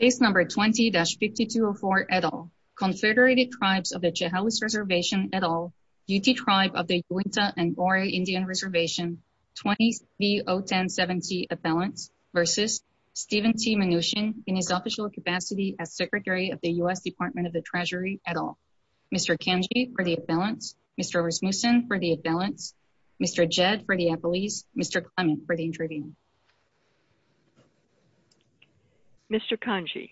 20-5204 et al. Consolidated Tribes of the Chehalis Reservation et al. Yuti Tribe of the Yuinta and Goree Indian Reservation. 20-3077-C Appellant v. Steven T. Mnuchin in his official capacity as Secretary of the U.S. Department of the Treasury et al. Mr. Kanji for the appellants. Mr. Rasmussen for the appellants. Mr. Jed for the appellees. Mr. Clement for the interviews. Mr. Kanji.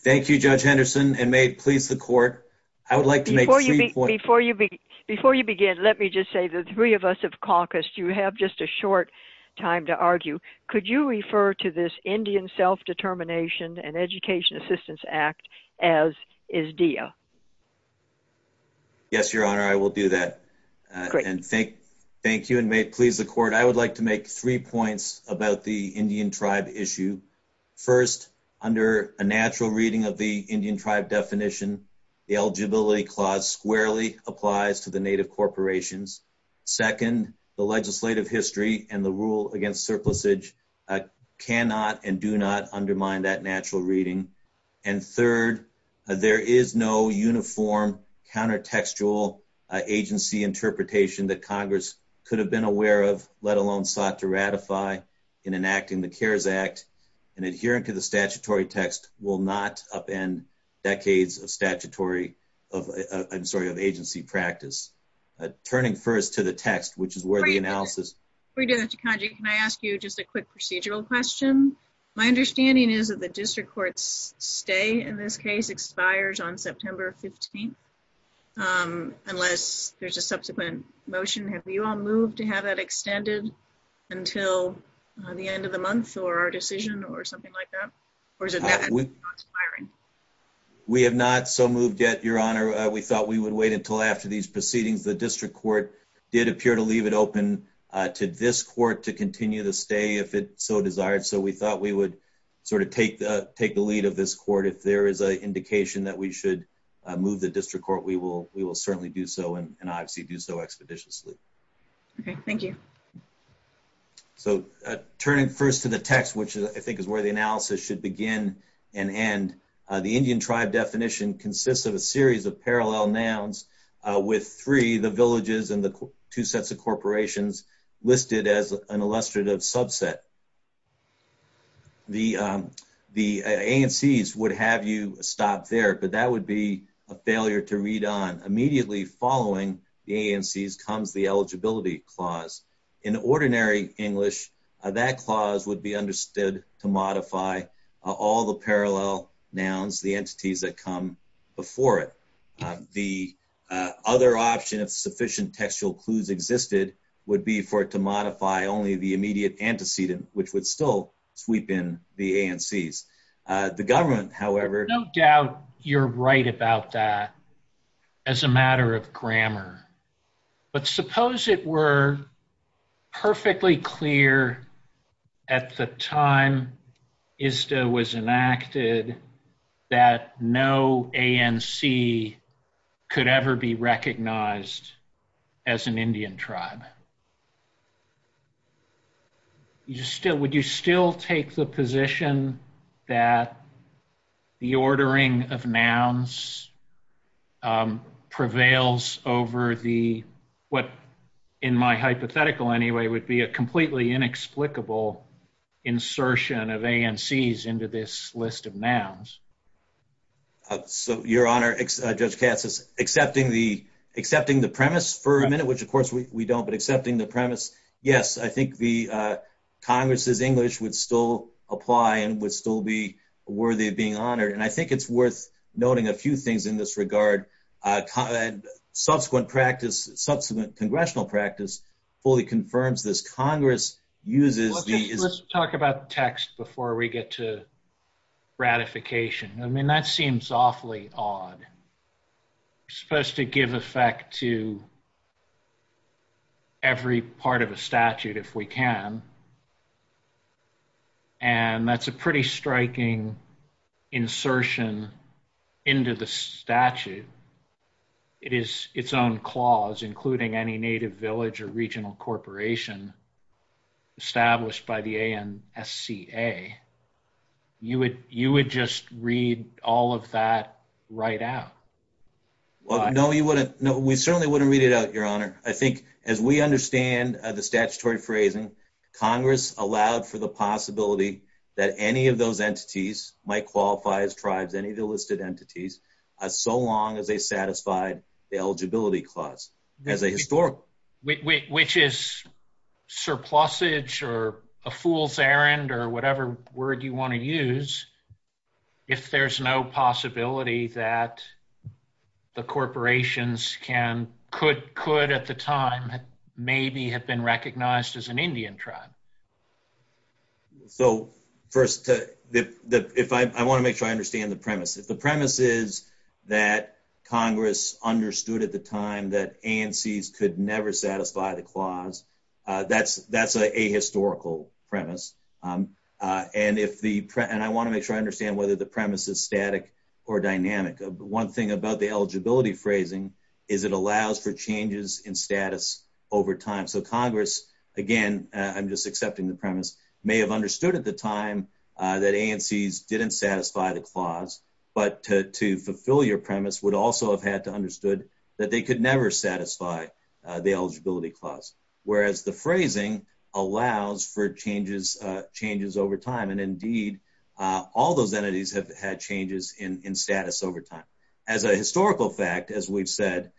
Thank you, Judge Henderson, and may it please the Court, I would like to make three points. Before you begin, let me just say the three of us have caucused. You have just a short time to argue. Could you refer to this Indian Self-Determination and Education Assistance Act as ISDEA? Yes, Your Honor, I will do that. Thank you, and may it please the Court, I would like to make three points about the Indian tribe issue. First, under a natural reading of the Indian tribe definition, the eligibility clause squarely applies to the Native corporations. Second, the legislative history and the rule against surplusage cannot and do not undermine that natural reading. And third, there is no uniform countertextual agency interpretation that Congress could have been aware of, let alone sought to ratify in enacting the CARES Act, and adhering to the statutory text will not upend decades of agency practice. Turning first to the text, which is worthy analysis. Before we get into Kanji, can I ask you just a quick procedural question? My understanding is that the district court's stay in this case expires on September 15th, unless there's a subsequent motion. Have you all moved to have that extended until the end of the month or our decision or something like that, or is it not expiring? We have not so moved yet, Your Honor. We thought we would wait until after these proceedings. The district court did appear to leave it open to this court to continue to stay, if it so desired, so we thought we would sort of take the lead of this court. If there is an indication that we should move the district court, we will certainly do so and obviously do so expeditiously. Okay, thank you. Turning first to the text, which I think is where the analysis should begin and end, the Indian tribe definition consists of a series of parallel nouns with three, the villages and the two sets of corporations listed as an illustrative subset. The ANCs would have you stop there, but that would be a failure to read on. Immediately following the ANCs comes the eligibility clause. In ordinary English, that clause would be understood to modify all the parallel nouns, the entities that come before it. The other option, if sufficient textual clues existed, would be for it to modify only the immediate antecedent, which would still sweep in the ANCs. The government, however... No doubt you're right about that as a matter of grammar, but suppose it were perfectly clear at the time ISTA was enacted that no ANC could ever be recognized as an Indian tribe. Would you still take the position that the ordering of nouns prevails over what, in my hypothetical anyway, would be a completely inexplicable insertion of ANCs into this list of nouns? Your Honor, Judge Katz is accepting the premise for a minute, which of course we don't, but accepting the premise, yes. I think Congress's English would still apply and would still be worthy of being honored, and I think it's worth noting a few things in this regard. Subsequent Congressional practice fully confirms this. Congress uses the... Let's talk about text before we get to ratification. I mean, that seems awfully odd. It's supposed to give effect to every part of a statute if we can, and that's a pretty striking insertion into the statute. It is its own clause, including any native village or regional corporation established by the ANCA. You would just read all of that right out. No, we certainly wouldn't read it out, Your Honor. I think as we understand the statutory phrasing, Congress allowed for the possibility that any of those entities might qualify as tribes, any of the listed entities, so long as they satisfied the eligibility clause as a historical. Which is surplusage or a fool's errand or whatever word you want to use if there's no possibility that the corporations could at the time maybe have been recognized as an Indian tribe. So first, I want to make sure I understand the premise. If the premise is that Congress understood at the time that ANCs could never satisfy the clause, that's a historical premise. And I want to make sure I understand whether the premise is static or dynamic. One thing about the eligibility phrasing is it allows for changes in status over time. So Congress, again, I'm just accepting the premise, may have understood at the time that ANCs didn't satisfy the clause, understood that they could never satisfy the eligibility clause, whereas the phrasing allows for changes over time. And indeed, all those entities have had changes in status over time. As a historical fact, as we've said,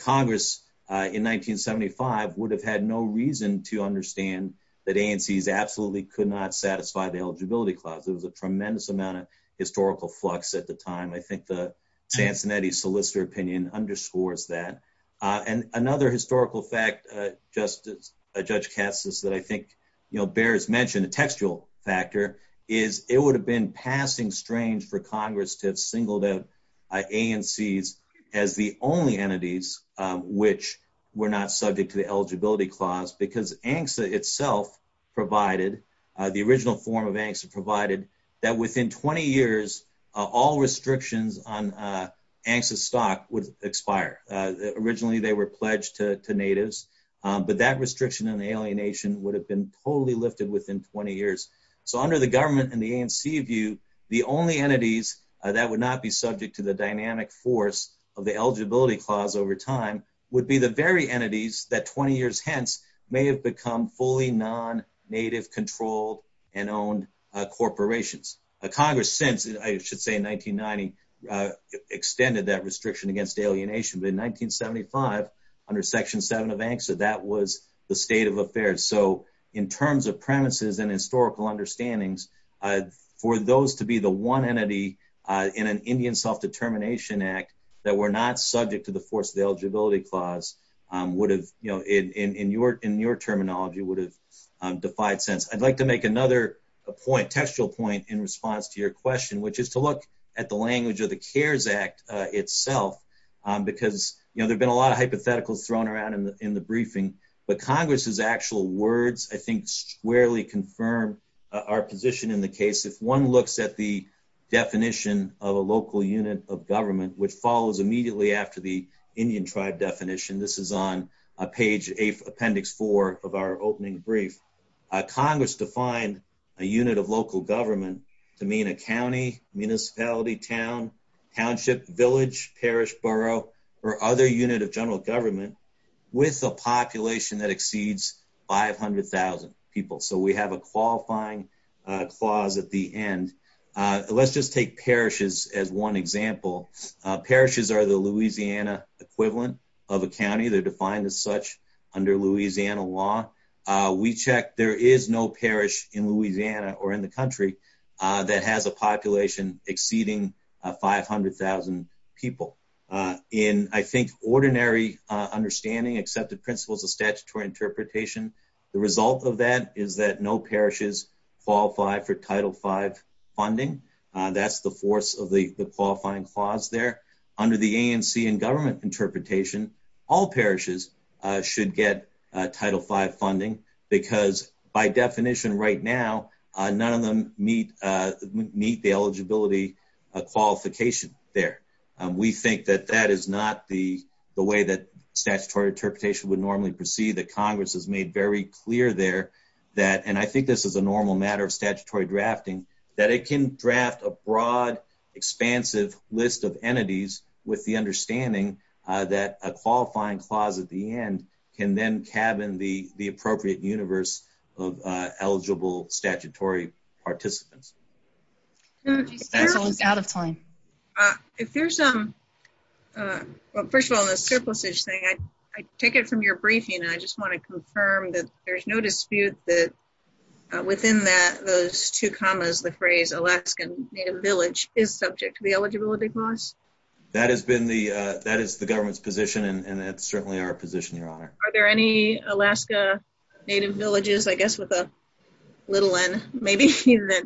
Congress in 1975 would have had no reason to understand that ANCs absolutely could not satisfy the eligibility clause. It was a tremendous amount of historical flux at the time. I think the Chantinetti solicitor opinion underscores that. And another historical fact, Judge Katz, is that I think bears mention, a textual factor, is it would have been passing strange for Congress to single out ANCs as the only entities which were not subject to the eligibility clause because ANCSA itself provided, the original form of ANCSA provided, that within 20 years all restrictions on ANCSA stock would expire. Originally they were pledged to natives, but that restriction and alienation would have been totally lifted within 20 years. So under the government and the ANC view, the only entities that would not be subject to the dynamic force of the eligibility clause over time would be the very entities that 20 years hence may have become fully non-native controlled and owned corporations. Congress since, I should say, 1990, extended that restriction against alienation. But in 1975, under Section 7 of ANCSA, that was the state of affairs. So in terms of premises and historical understandings, for those to be the one entity in an Indian self-determination act that were not subject to the force of the eligibility clause in your terminology would have defied sense. I'd like to make another point, textual point, in response to your question, which is to look at the language of the CARES Act itself because there have been a lot of hypotheticals thrown around in the briefing, but Congress's actual words I think squarely confirm our position in the case. If one looks at the definition of a local unit of government, which follows immediately after the Indian tribe definition, this is on page 8, appendix 4 of our opening brief, Congress defined a unit of local government to mean a county, municipality, town, township, village, parish, borough, or other unit of general government with a population that exceeds 500,000 people. So we have a qualifying clause at the end. Let's just take parishes as one example. Parishes are the Louisiana equivalent of a county. They're defined as such under Louisiana law. We check there is no parish in Louisiana or in the country that has a population exceeding 500,000 people. In, I think, ordinary understanding, accepted principles of statutory interpretation, the result of that is that no parishes qualify for Title V funding. That's the force of the qualifying clause there. Under the ANC and government interpretation, all parishes should get Title V funding because by definition right now, none of them meet the eligibility qualification there. We think that that is not the way that statutory interpretation would normally proceed. Congress has made very clear there that, and I think this is a normal matter of statutory drafting, that it can draft a broad, expansive list of entities with the understanding that a qualifying clause at the end can then cabin the appropriate universe of eligible statutory participants. First of all, on the surplus-ish thing, I take it from your briefing and I just want to confirm that there's no dispute that within those two commas, the phrase Alaskan Native Village is subject to the eligibility clause? That is the government's position and it's certainly our position, Your Honor. Are there any Alaska Native Villages, I guess, with a little n, maybe, that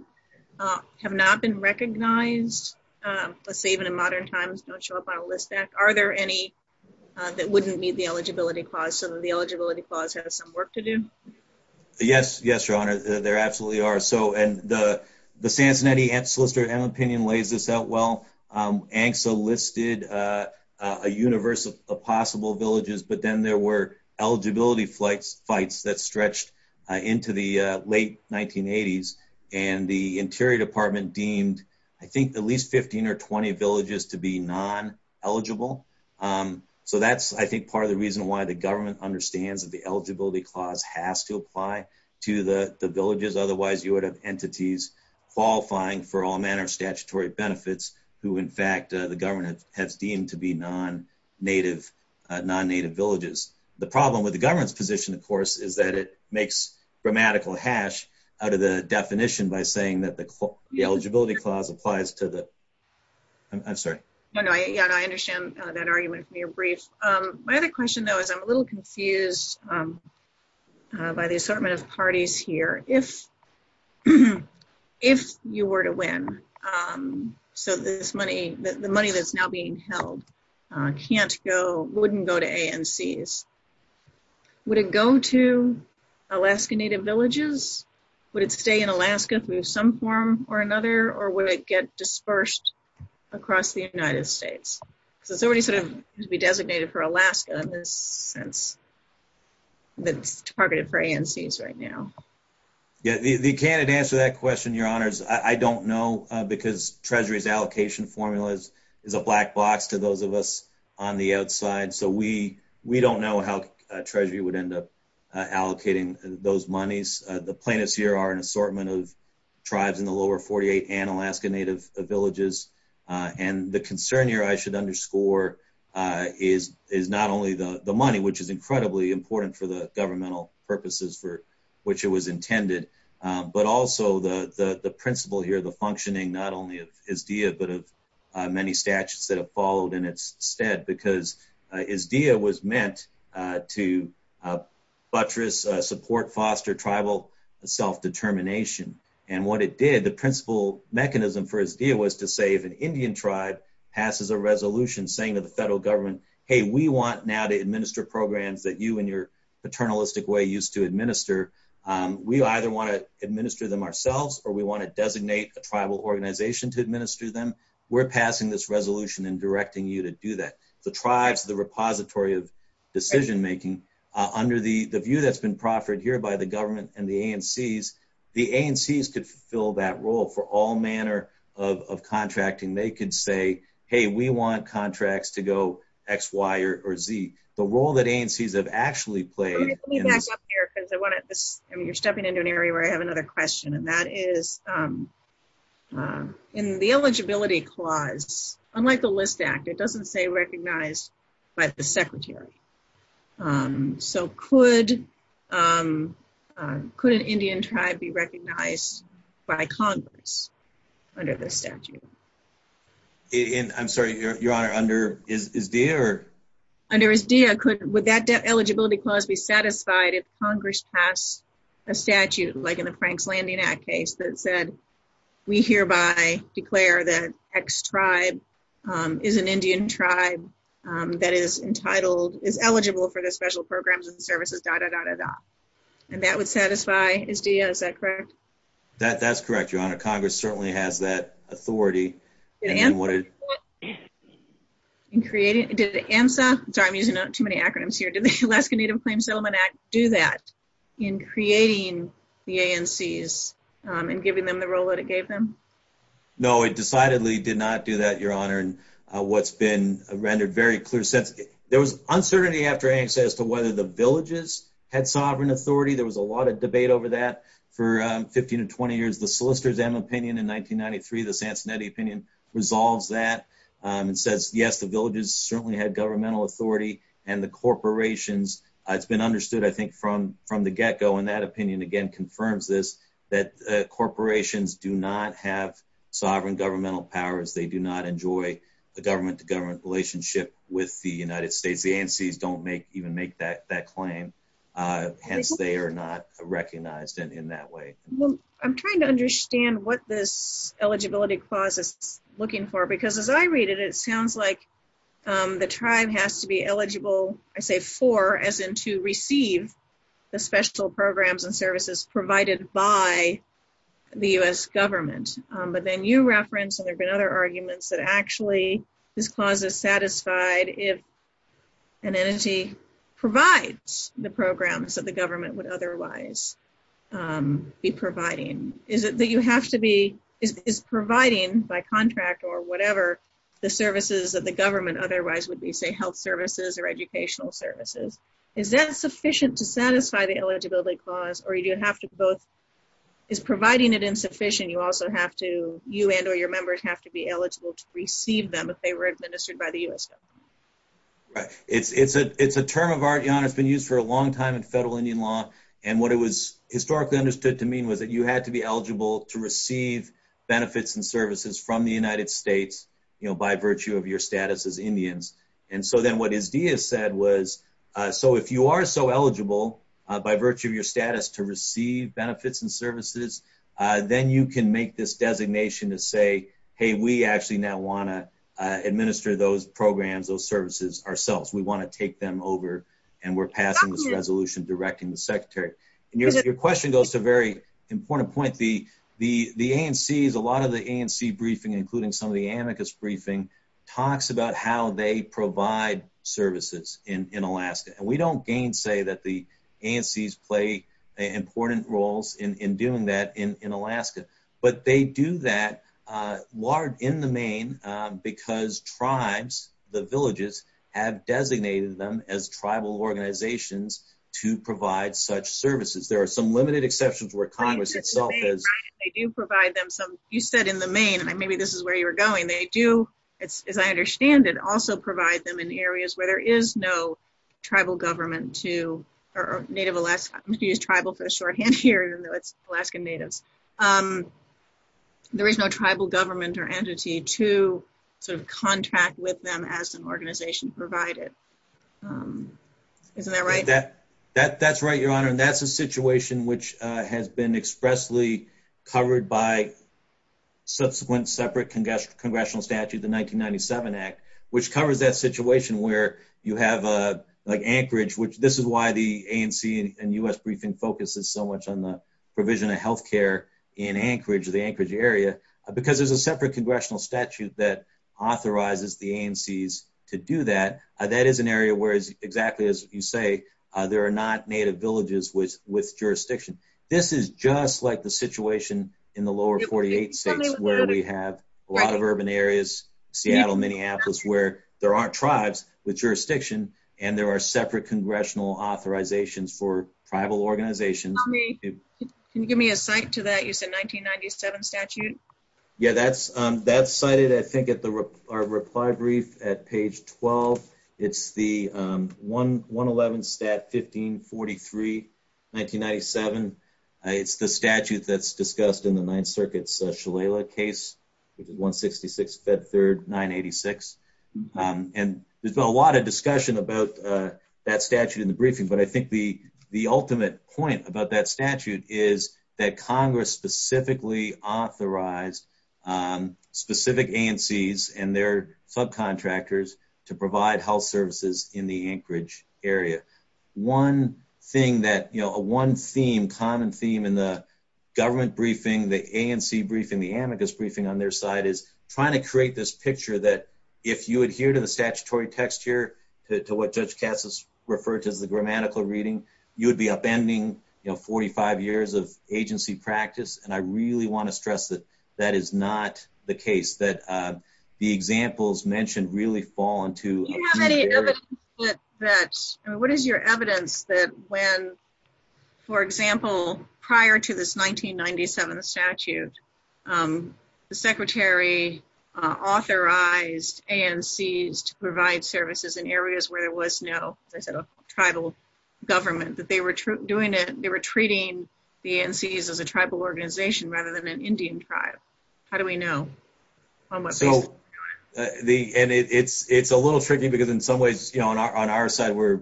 have not been recognized? Let's say even in modern times, don't show up on a list back. Are there any that wouldn't meet the eligibility clause so that the eligibility clause has some work to do? Yes, Your Honor, there absolutely are. So the Santenetti and Solicitor General opinion lays this out well. ANCSA listed a universe of possible villages, but then there were eligibility fights that stretched into the late 1980s, and the Interior Department deemed, I think, at least 15 or 20 villages to be non-eligible. So that's, I think, part of the reason why the government understands that the eligibility clause has to apply to the villages. Otherwise, you would have entities qualifying for all manner of statutory benefits who, in fact, the government has deemed to be non-native villages. The problem with the government's position, of course, is that it makes grammatical hash out of the definition by saying that the eligibility clause applies to the, I'm sorry. No, no, I understand that argument in your brief. My other question, though, is I'm a little confused by the assortment of parties here. If you were to win, so the money that's now being held can't go, wouldn't go to ANCs, would it go to Alaska Native villages? Would it stay in Alaska through some form or another? Or would it get dispersed across the United States? So it's already sort of designated for Alaska, and it's targeted for ANCs right now. Yeah, if you can't answer that question, Your Honors, I don't know because Treasury's allocation formula is a black box to those of us on the outside. So we don't know how Treasury would end up allocating those monies. The plaintiffs here are an assortment of tribes in the lower 48 and Alaska Native villages. And the concern here I should underscore is not only the money, which is incredibly important for the governmental purposes for which it was intended, but also the principle here, the functioning not only of IZDIA, but of many statutes that have followed in its stead, because IZDIA was meant to buttress, support, foster tribal self-determination. And what it did, the principle mechanism for IZDIA was to say if an Indian tribe passes a resolution saying to the federal government, hey, we want now to administer programs that you in your paternalistic way used to administer, we either want to administer them ourselves or we want to designate a tribal organization to administer them, we're passing this resolution and directing you to do that. The tribes, the repository of decision-making, under the view that's been proffered here by the government and the ANCs, the ANCs could fill that role for all manner of contracting. They could say, hey, we want contracts to go X, Y, or Z. The role that ANCs have actually played. Let me back up here because you're stepping into an area where I have another question, and that is in the eligibility clause, unlike the List Act, it doesn't say recognized by the secretary. So could an Indian tribe be recognized by Congress under this statute? I'm sorry, Your Honor, under IZDIA? Under IZDIA, would that eligibility clause be satisfied if Congress passed a statute, like in the Frank's Landing Act case that said, we hereby declare that X tribe is an Indian tribe that is entitled, is eligible for the special programs and services, da-da-da-da-da. And that would satisfy IZDIA, is that correct? That's correct, Your Honor. Congress certainly has that authority. Sorry, I'm using too many acronyms here. Did the Alaska Native Claims Settlement Act do that in creating the ANCs and giving them the role that it gave them? No, it decidedly did not do that, Your Honor, in what's been rendered very clear since. There was uncertainty after ANCs as to whether the villages had sovereign authority. There was a lot of debate over that. For 15 to 20 years, the solicitors had an opinion. In 1993, the Sancinetti opinion resolves that and says, yes, the villages certainly had governmental authority and the corporations. It's been understood, I think, from the get-go, and that opinion, again, confirms this, that corporations do not have sovereign governmental powers. They do not enjoy a government-to-government relationship with the United States. The ANCs don't even make that claim. Hence, they are not recognized in that way. Well, I'm trying to understand what this eligibility clause is looking for, because as I read it, it sounds like the tribe has to be eligible, I say for, as in to receive the special programs and services provided by the U.S. government. But then you reference, and there have been other arguments, that actually this clause is satisfied if an entity provides the programs that the government would otherwise be providing. Is it that you have to be, is providing by contract or whatever, the services that the government otherwise would be, say, health services or educational services, is that sufficient to satisfy the eligibility clause, or do you have to both, is providing it insufficient, you also have to, you and or your members have to be eligible to receive them if they were administered by the U.S. government? It's a term of art, Jan, it's been used for a long time in federal Indian law, and what it was historically understood to mean was that you had to be eligible to receive benefits and services from the United States, you know, by virtue of your status as Indians. And so then what ISDIA said was, so if you are so eligible by virtue of your status to receive benefits and services, then you can make this designation to say, hey, we actually now want to administer those programs, those services, ourselves, we want to take them over, and we're passing this resolution directing the secretary. And your question goes to a very important point, the ANCs, a lot of the ANC briefing, including some of the amicus briefing, talks about how they provide services in Alaska, and we don't gainsay that the ANCs play important roles in doing that in Alaska. They do provide services in the Maine because tribes, the villages, have designated them as tribal organizations to provide such services. There are some limited exceptions where Congress itself has. They do provide them some, you said in the Maine, and maybe this is where you were going, they do, as I understand it, also provide them in areas where there is no tribal government to, or native Alaska, I'm going to use tribal for the shorthand here, Alaska natives, there is no tribal government or entity to sort of contract with them as an organization provided. Isn't that right? That's right, Your Honor, and that's a situation which has been expressly covered by subsequent separate congressional statutes, the 1997 Act, which covers that situation where you have like Anchorage, which this is why the ANC and U.S. briefing focuses so much on the provision of healthcare in Anchorage, the Anchorage area, because there's a separate congressional statute that authorizes the ANCs to do that. That is an area where exactly as you say, there are not native villages with jurisdiction. This is just like the situation in the lower 48 states where we have a lot where there aren't tribes with jurisdiction and there are separate congressional authorizations for tribal organizations. Can you give me a cite to that? It's a 1997 statute. Yeah, that's cited I think at our reply brief at page 12. It's the 111 Stat 1543, 1997. It's the statute that's discussed in the Ninth Circuit's Shalala case, 166, Fed Third, 986. There's a lot of discussion about that statute in the briefing, but I think the ultimate point about that statute is that Congress specifically authorized specific ANCs and their subcontractors to provide health services in the Anchorage area. One thing that, you know, a one theme, common theme in the government briefing, the ANC briefing, the amicus briefing on their side is trying to create this picture that if you adhere to the statutory text here, to what Judge Cassis referred to as the grammatical reading, you would be upending 45 years of agency practice. And I really want to stress that that is not the case, that the examples mentioned really fall into- Do you have any evidence that, what is your evidence that when, for example, prior to this 1997 statute, the secretary authorized ANCs to provide services in areas where there was no tribal government, that they were doing it, they were treating the ANCs as a tribal organization rather than an Indian tribe? How do we know? And it's a little tricky because in some ways, you know, on our side we're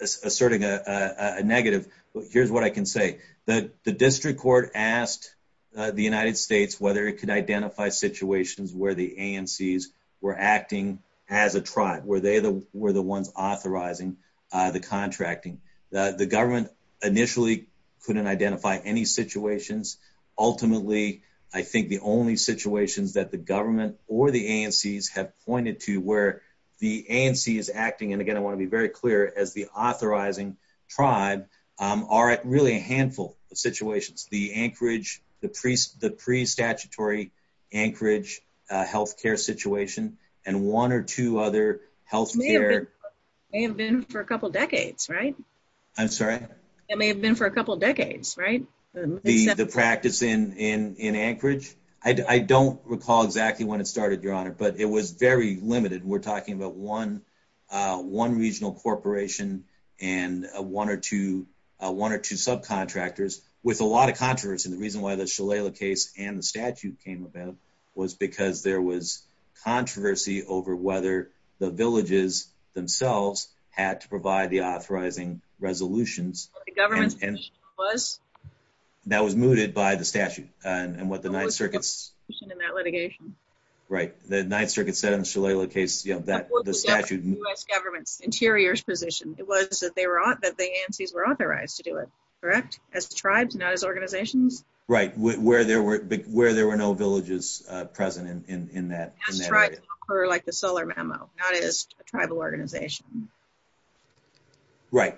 asserting a negative. Here's what I can say. The district court asked the United States whether it could identify situations where the ANCs were acting as a tribe, where they were the ones authorizing the contracting. The government initially couldn't identify any situations. Ultimately, I think the only situations that the government or the ANCs have pointed to where the ANC is acting, and again, I want to be very clear, as the authorizing tribe, are really a handful of situations. The Anchorage, the pre-statutory Anchorage health care situation, and one or two other health care- May have been for a couple decades, right? I'm sorry? It may have been for a couple decades, right? The practice in Anchorage? I don't recall exactly when it started, Your Honor, but it was very limited. We're talking about one regional corporation and one or two subcontractors with a lot of controversy. The reason why the Shalala case and the statute came about was because there was controversy over whether the villages themselves had to provide the authorizing resolutions. The government's position was? That was mooted by the statute. And what the Ninth Circuit- In that litigation? Right. The Ninth Circuit 7 Shalala case, the statute- That was the U.S. government, Interior's position. It was that the ANCs were authorized to do it, correct? As tribes, not as organizations? Right. Where there were no villages present in that area. As tribes, like the Solar Memo, not as a tribal organization. Right.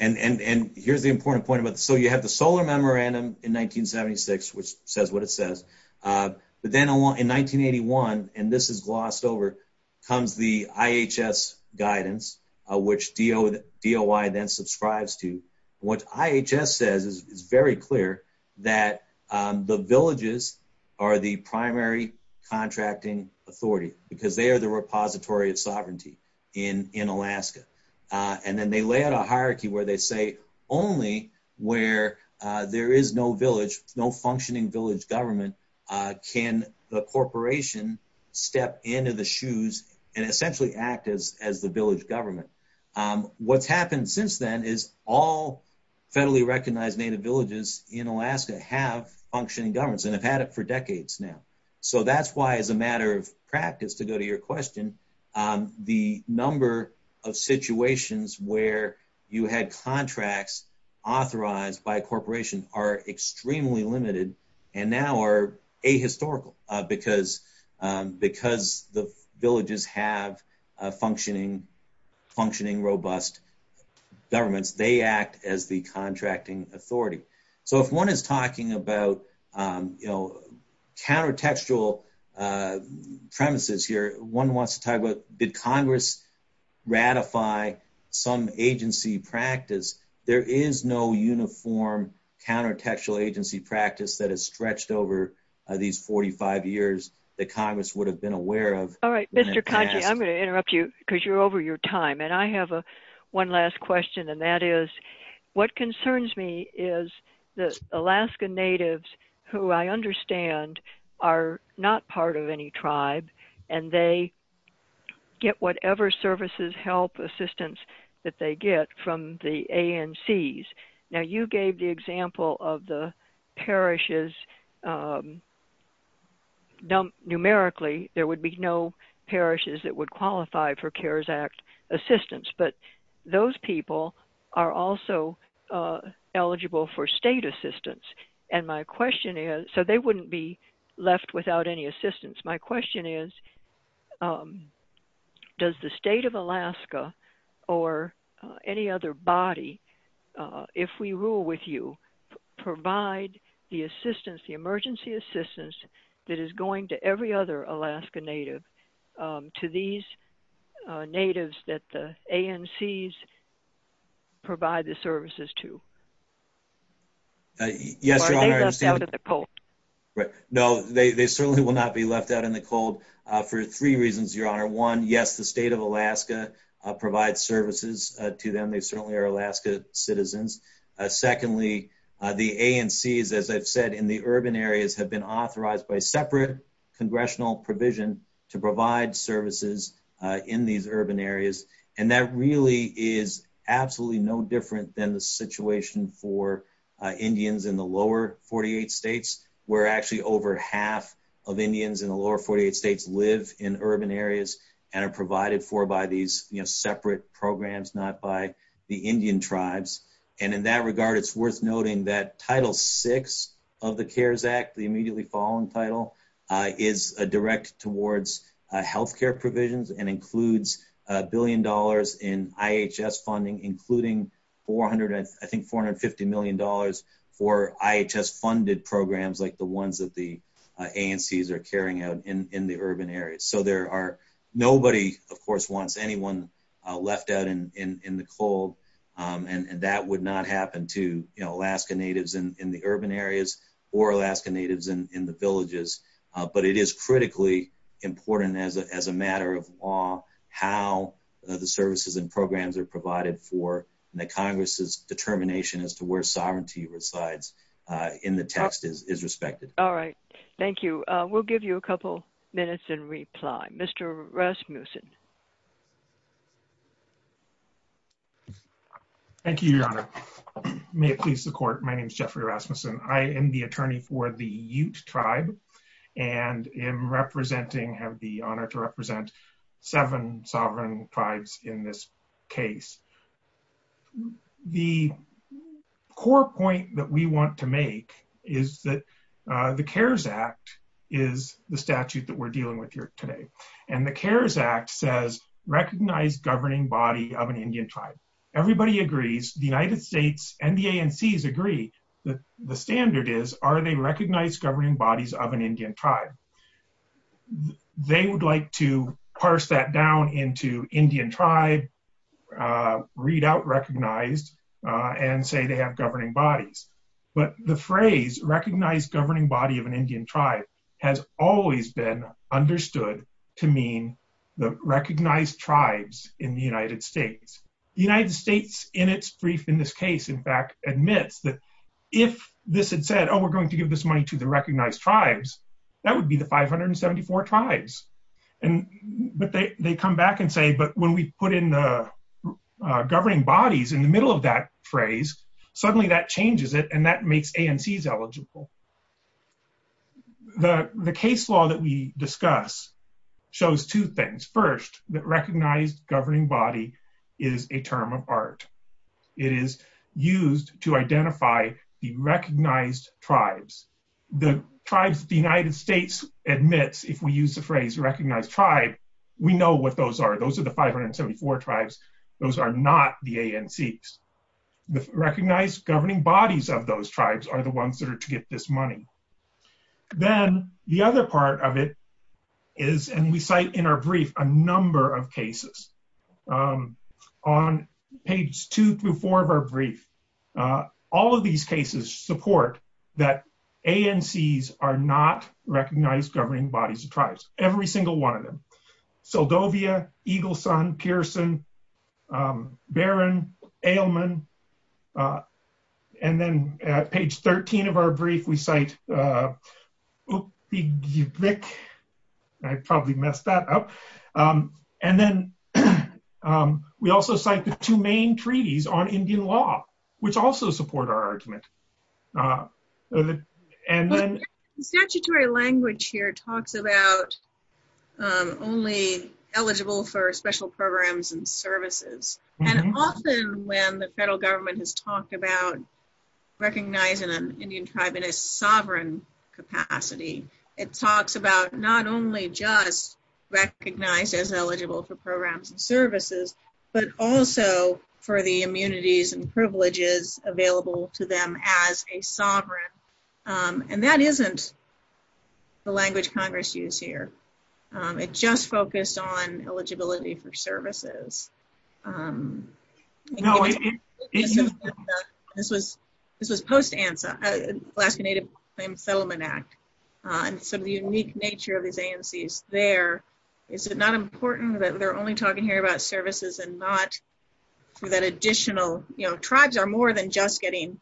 And here's the important point. So you have the Solar Memorandum in 1976, which says what it says. But then in 1981, and this is glossed over, comes the IHS guidance, which DOI then subscribes to. What IHS says is very clear, that the villages are the primary contracting authority because they are the repository of sovereignty in Alaska. And then they lay out a hierarchy where they say only where there is no functioning village government can the corporation step into the shoes and essentially act as the village government. What's happened since then is all federally recognized native villages in Alaska have functioning governments and have had it for decades now. So that's why, as a matter of practice, to go to your question, the number of situations where you had contracts authorized by a corporation are extremely limited and now are ahistorical because the villages have functioning, robust governments. They act as the contracting authority. So if one is talking about, you know, countertextual premises here, one wants to talk about did Congress ratify some agency practice? There is no uniform countertextual agency practice that is stretched over these 45 years that Congress would have been aware of. All right, Mr. Kanchi, I'm going to interrupt you because you're over your time. And I have one last question, and that is, what concerns me is that Alaska natives, who I understand are not part of any tribe, and they get whatever services, help, assistance that they get from the ANCs. Now, you gave the example of the parishes. Numerically, there would be no parishes that would qualify for CARES Act assistance, but those people are also eligible for state assistance. And my question is, so they wouldn't be left without any assistance. My question is, does the state of Alaska or any other body, if we rule with you, provide the assistance, the emergency assistance that is going to every other Alaska native to these natives that the ANCs provide the services to? No, they certainly will not be left out in the cold for three reasons, Your Honor. One, yes, the state of Alaska provides services to them. They certainly are Alaska citizens. Secondly, the ANCs, as I've said, in the urban areas have been authorized by separate congressional provision to provide services in these urban areas. And that really is absolutely no different than the situation for Indians in the state of Alaska, where actually over half of Indians in the lower 48 states live in urban areas and are provided for by these separate programs, not by the Indian tribes. And in that regard, it's worth noting that Title VI of the CARES Act, the immediately following title, is directed towards health care provisions and includes a billion dollars in IHS funding, including I think $450 million for IHS funded programs like the ones that the ANCs are carrying out in the urban areas. So there are nobody, of course, wants anyone left out in the cold. And that would not happen to, you know, Alaska natives in the urban areas or Alaska natives in the villages. But it is critically important as a matter of law how the services and programs are provided for and that Congress's determination as to where sovereignty resides in the text is respected. All right. Thank you. We'll give you a couple minutes in reply. Mr. Rasmussen. Thank you, Your Honor. May it please the Court, my name is Jeffrey Rasmussen. I am the attorney for the Ute Tribe and am representing, have the honor to represent seven sovereign tribes in this case. The core point that we want to make is that the CARES Act is the statute that we're dealing with here today. And the CARES Act says recognize governing body of an Indian tribe. Everybody agrees. The United States NDANCs agree. The standard is are they recognized governing bodies of an Indian tribe? They would like to parse that down into Indian tribe, read out recognize, and say they have governing bodies. But the phrase recognize governing body of an Indian tribe has always been understood to mean the recognized tribes in the United States. The United States in its brief in this case, in fact, admits that if this had said, oh, we're going to give this money to the recognized tribes, that would be the 574 tribes. But they come back and say, but when we put in the governing bodies in the middle of that phrase, suddenly that changes it and that makes ANCs eligible. The case law that we discuss shows two things. First, that recognize governing body is a term of art. It is used to identify the recognized tribes. The tribes the United States admits, if we use the phrase recognize tribe, we know what those are. Those are the 574 tribes. Those are not the ANCs. The recognize governing bodies of those tribes are the ones that are to get this money. Then the other part of it is, and we cite in our brief a number of cases. On page two through four of our brief, all of these cases support that ANCs are not recognized governing bodies of tribes. Every single one of them. We also cite the two main treaties on Indian law, which also support our argument. Statutory language here talks about only eligible for special programs and services. Often when the federal government has talked about recognizing an Indian tribe in its sovereign capacity, it talks about not only just recognize as eligible for programs and services, but also for the immunities and privileges available to them as a sovereign. That isn't the language Congress used here. It just focused on eligibility for services. This was post ANSA, Alaska Native Claims Settlement Act. Some of the unique nature of these ANCs there. Is it not important that we're only talking here about services and not that additional, tribes are more than just getting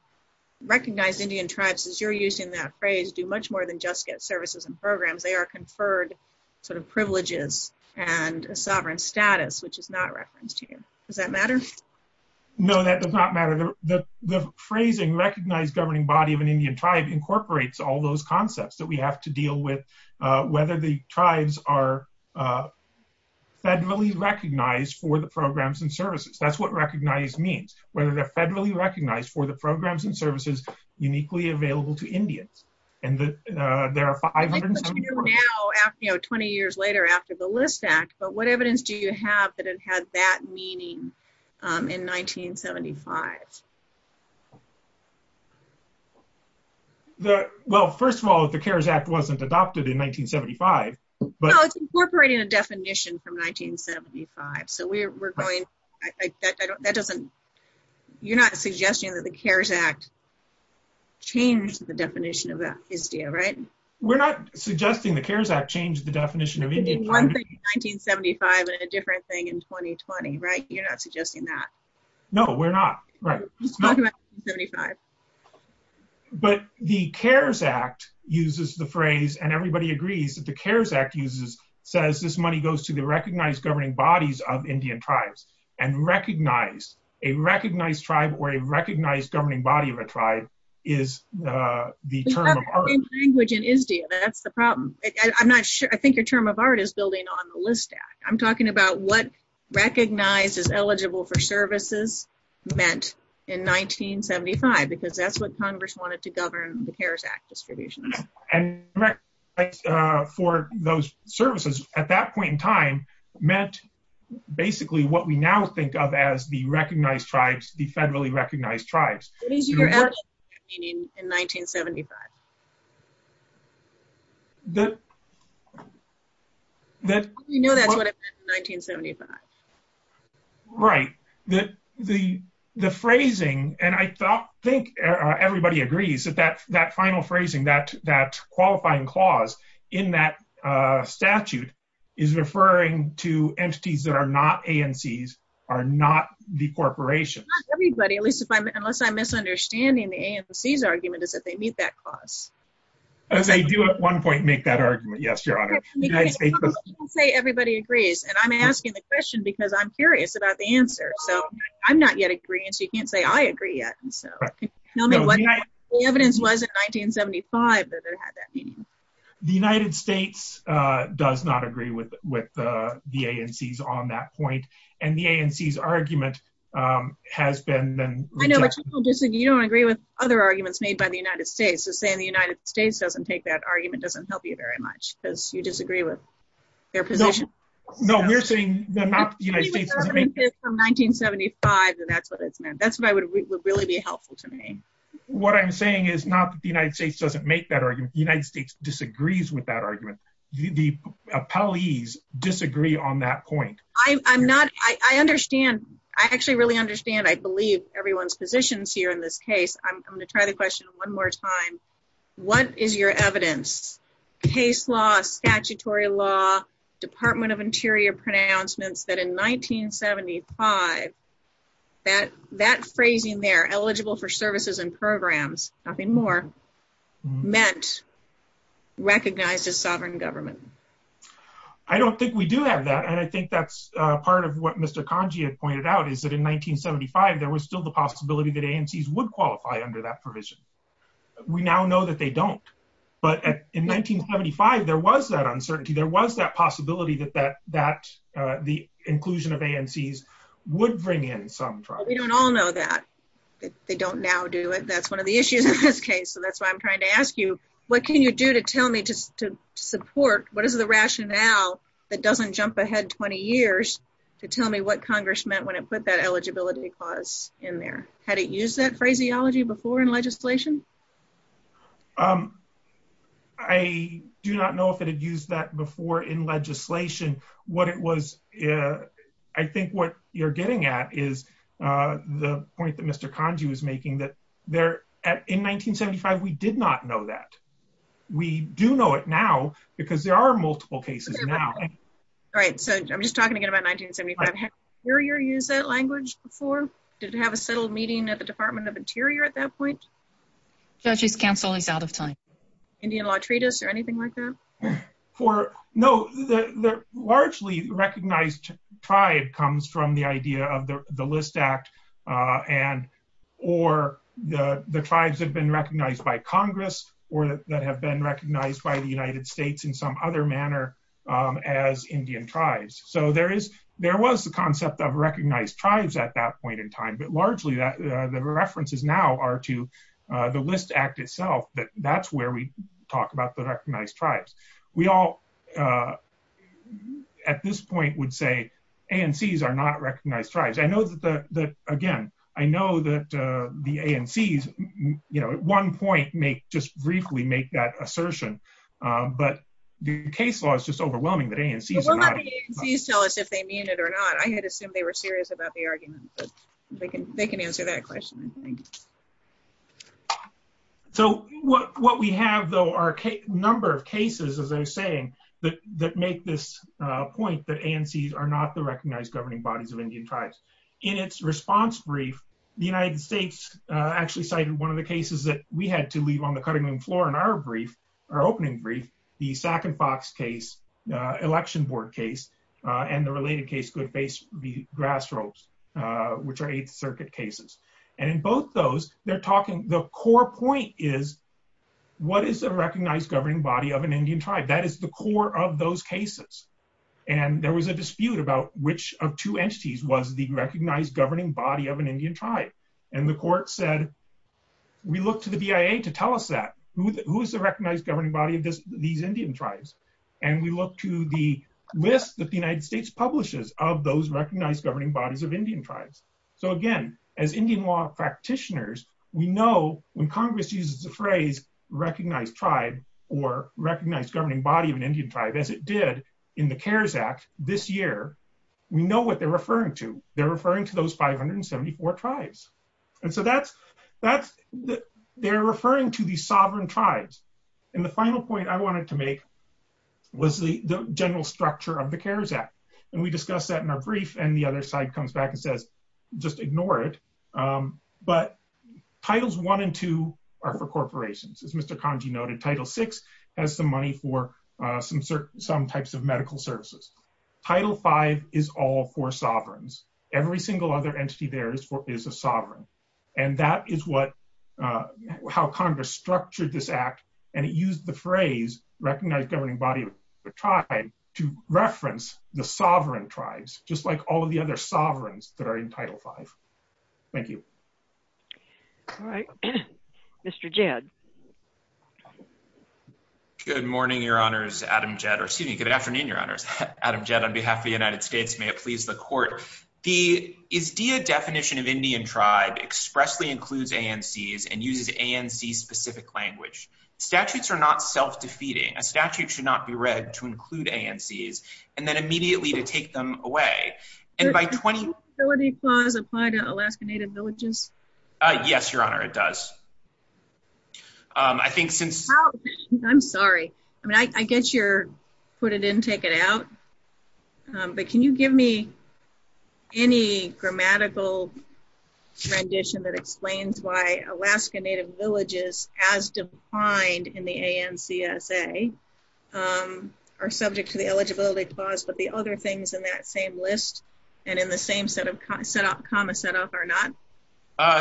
recognized Indian tribes, as you're using that phrase, do much more than just get services and programs. They are conferred privileges and a sovereign status, which is not referenced here. Does that matter? No, that does not matter. The phrasing recognize governing body of an Indian tribe incorporates all those concepts that we have to deal with, whether the tribes are federally recognized for the programs and services. That's what recognize means. Whether they're federally recognized for the programs and services uniquely available to Indians. 20 years later after the List Act, but what evidence do you have that it had that meaning in 1975? Well, first of all, the CARES Act wasn't adopted in 1975. No, it's incorporating a definition from 1975. So we're going, that doesn't, you're not suggesting that the CARES Act changed the definition of that, right? We're not suggesting the CARES Act changed the definition of Indian tribes. It could be one thing in 1975 and a different thing in 2020, right? You're not suggesting that. No, we're not. But the CARES Act uses the phrase, and everybody agrees that the CARES Act uses, says this money goes to the recognized governing bodies of Indian tribes. And recognize, a recognized tribe or a recognized governing body of a tribe is the term of art. That's the problem. I'm not sure, I think the term of art is building on the List Act. I'm talking about what recognized as eligible for services meant in 1975, because that's what Congress wanted to govern the CARES Act distribution. And recognized for those services at that point in time meant basically what we now think of as the recognized tribes, the federally recognized tribes. In 1975. You know that's what it meant in 1975. Right. The phrasing, and I think everybody agrees that that final phrasing, that qualifying clause in that statute is referring to entities that are not ANCs, are not the corporation. Not everybody, unless I'm misunderstanding the ANC's argument is that they meet that clause. They do at one point make that argument. Yes, Your Honor. Everybody agrees. And I'm asking the question because I'm curious about the answer. So I'm not yet agreeing, so you can't say I agree yet. The evidence was in 1975 that it had that meaning. The United States does not agree with the ANCs on that point. And the ANC's argument has been. I know, but you don't agree with other arguments made by the United States. So saying the United States doesn't take that argument doesn't help you very much because you disagree with their position. No, we're saying. Not the United States. 1975, and that's what it meant. That's what would really be helpful to me. What I'm saying is not that the United States doesn't make that argument. The United States disagrees with that argument. The appellees disagree on that point. I'm not, I understand. I actually really understand. I believe everyone's positions here in this case. I'm going to try to question one more time. What is your evidence? Case law, statutory law, Department of Interior pronouncements that in 1975, that phrasing there, eligible for services and programs, nothing more, meant recognized as sovereign government. I don't think we do have that. And I think that's part of what Mr. Conje has pointed out is that in 1975, there was still the possibility that ANCs would qualify under that provision. We now know that they don't. But in 1975, there was that uncertainty. There was that possibility that the inclusion of ANCs would bring in some. We don't all know that. They don't now do it. That's one of the issues in this case. That's why I'm trying to ask you, what can you do to tell me to support, what is the rationale that doesn't jump ahead 20 years to tell me what Congress meant when it put that eligibility clause in there? Had it used that phraseology before in legislation? I do not know if it had used that before in legislation. I think what you're getting at is the point that Mr. Conje was making, that in 1975, we did not know that. We do know it now because there are multiple cases now. All right. So I'm just talking again about 1975. Had Interior used that language before? Did it have a settled meeting at the Department of Interior at that point? Statute of counsel is out of time. Indian law treatise or anything like that? No. Largely recognized tribe comes from the idea of the List Act or the tribes that have been recognized by Congress or that have been recognized by the United States in some other manner as Indian tribes. So there was the concept of recognized tribes at that point in time. But largely, the references now are to the List Act itself. That's where we talk about the recognized tribes. We all at this point would say ANCs are not recognized tribes. I know that, again, I know that the ANCs at one point may just briefly make that assertion. But the case law is just overwhelming that ANCs are not. We'll let the ANCs tell us if they mean it or not. I had assumed they were serious about the argument. But they can answer that question, I think. So what we have, though, are a number of cases, as I was saying, that make this point that ANCs are not the recognized governing bodies of Indian tribes. In its response brief, the United States actually cited one of the cases that we had to leave on the cutting room floor in our brief, our opening brief, the Sac and Fox case, election board case, and the related case, the grassroots, which are Eighth Circuit cases. And in both those, they're talking, the core point is, what is the recognized governing body of an Indian tribe? That is the core of those cases. And there was a dispute about which of two entities was the recognized governing body of an Indian tribe. And the court said, we look to the BIA to tell us that. Who is the recognized governing body of these Indian tribes? And we look to the list that the United States publishes of those recognized governing bodies of Indian tribes. So again, as Indian law practitioners, we know when Congress uses the phrase recognized tribe or recognized governing body of an Indian tribe, as it did in the CARES Act this year, we know what they're referring to. They're referring to those 574 tribes. And so that's, they're referring to these sovereign tribes. And the final point I wanted to make was the general structure of the CARES Act. And we discussed that in our brief, and the other side comes back and says, just ignore it. But Titles I and II are for corporations, as Mr. Kanji noted. Title VI has the money for some types of medical services. Title V is all for sovereigns. Every single other entity there is a sovereign. And that is what, how Congress structured this act, and it used the phrase recognized governing body of the tribe to reference the sovereign tribes, just like all of the other sovereigns that are in Title V. Thank you. All right. Mr. Jed. Good morning, Your Honors, Adam Jed, or excuse me, good afternoon, Your Honors. Adam Jed, on behalf of the United States, may it please the court. The IDEA definition of Indian tribe expressly includes ANCs and uses ANC-specific language. Statutes are not self-defeating. A statute should not be read to include ANCs and then immediately to take them away. And by 20- Does the disability clause apply to Alaska Native villages? Yes, Your Honor, it does. I think since- I'm sorry. I mean, I guess you're put it in, take it out. But can you give me any grammatical transition that explains why Alaska Native villages, as defined in the ANCSA, are subject to the eligibility clause, but the other things in that same list and in the same set of comma set off are not?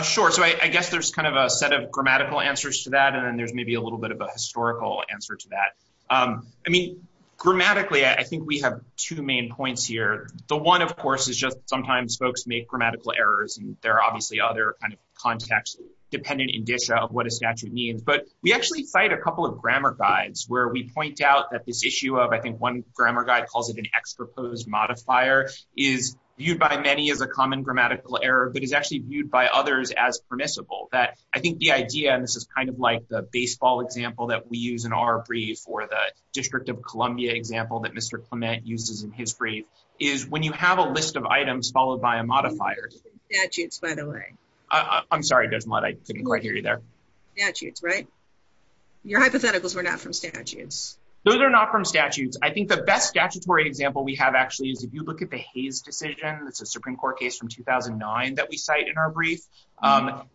Sure. So I guess there's kind of a set of grammatical answers to that, and then there's maybe a little bit of a historical answer to that. I mean, grammatically, I think we have two main points here. The one, of course, is just sometimes folks make grammatical errors, and there are obviously other kind of contexts dependent in detail what a statute means. But we actually cite a couple of grammar guides where we point out that this issue of, I think one grammar guide calls it an ex-proposed modifier, is viewed by many as a common grammatical error, but is actually viewed by others as permissible. I think the idea, and this is kind of like the baseball example that we use in our brief or the District of Columbia example that Mr. Clement uses in his brief, is when you have a list of items followed by a modifier. Statutes, by the way. I'm sorry, Desmond, I didn't quite hear you there. Statutes, right? Your hypotheticals were not from statutes. Those are not from statutes. I think the best statutory example we have actually is if you look at the Hayes decision. It's a Supreme Court case from 2009 that we cite in our brief.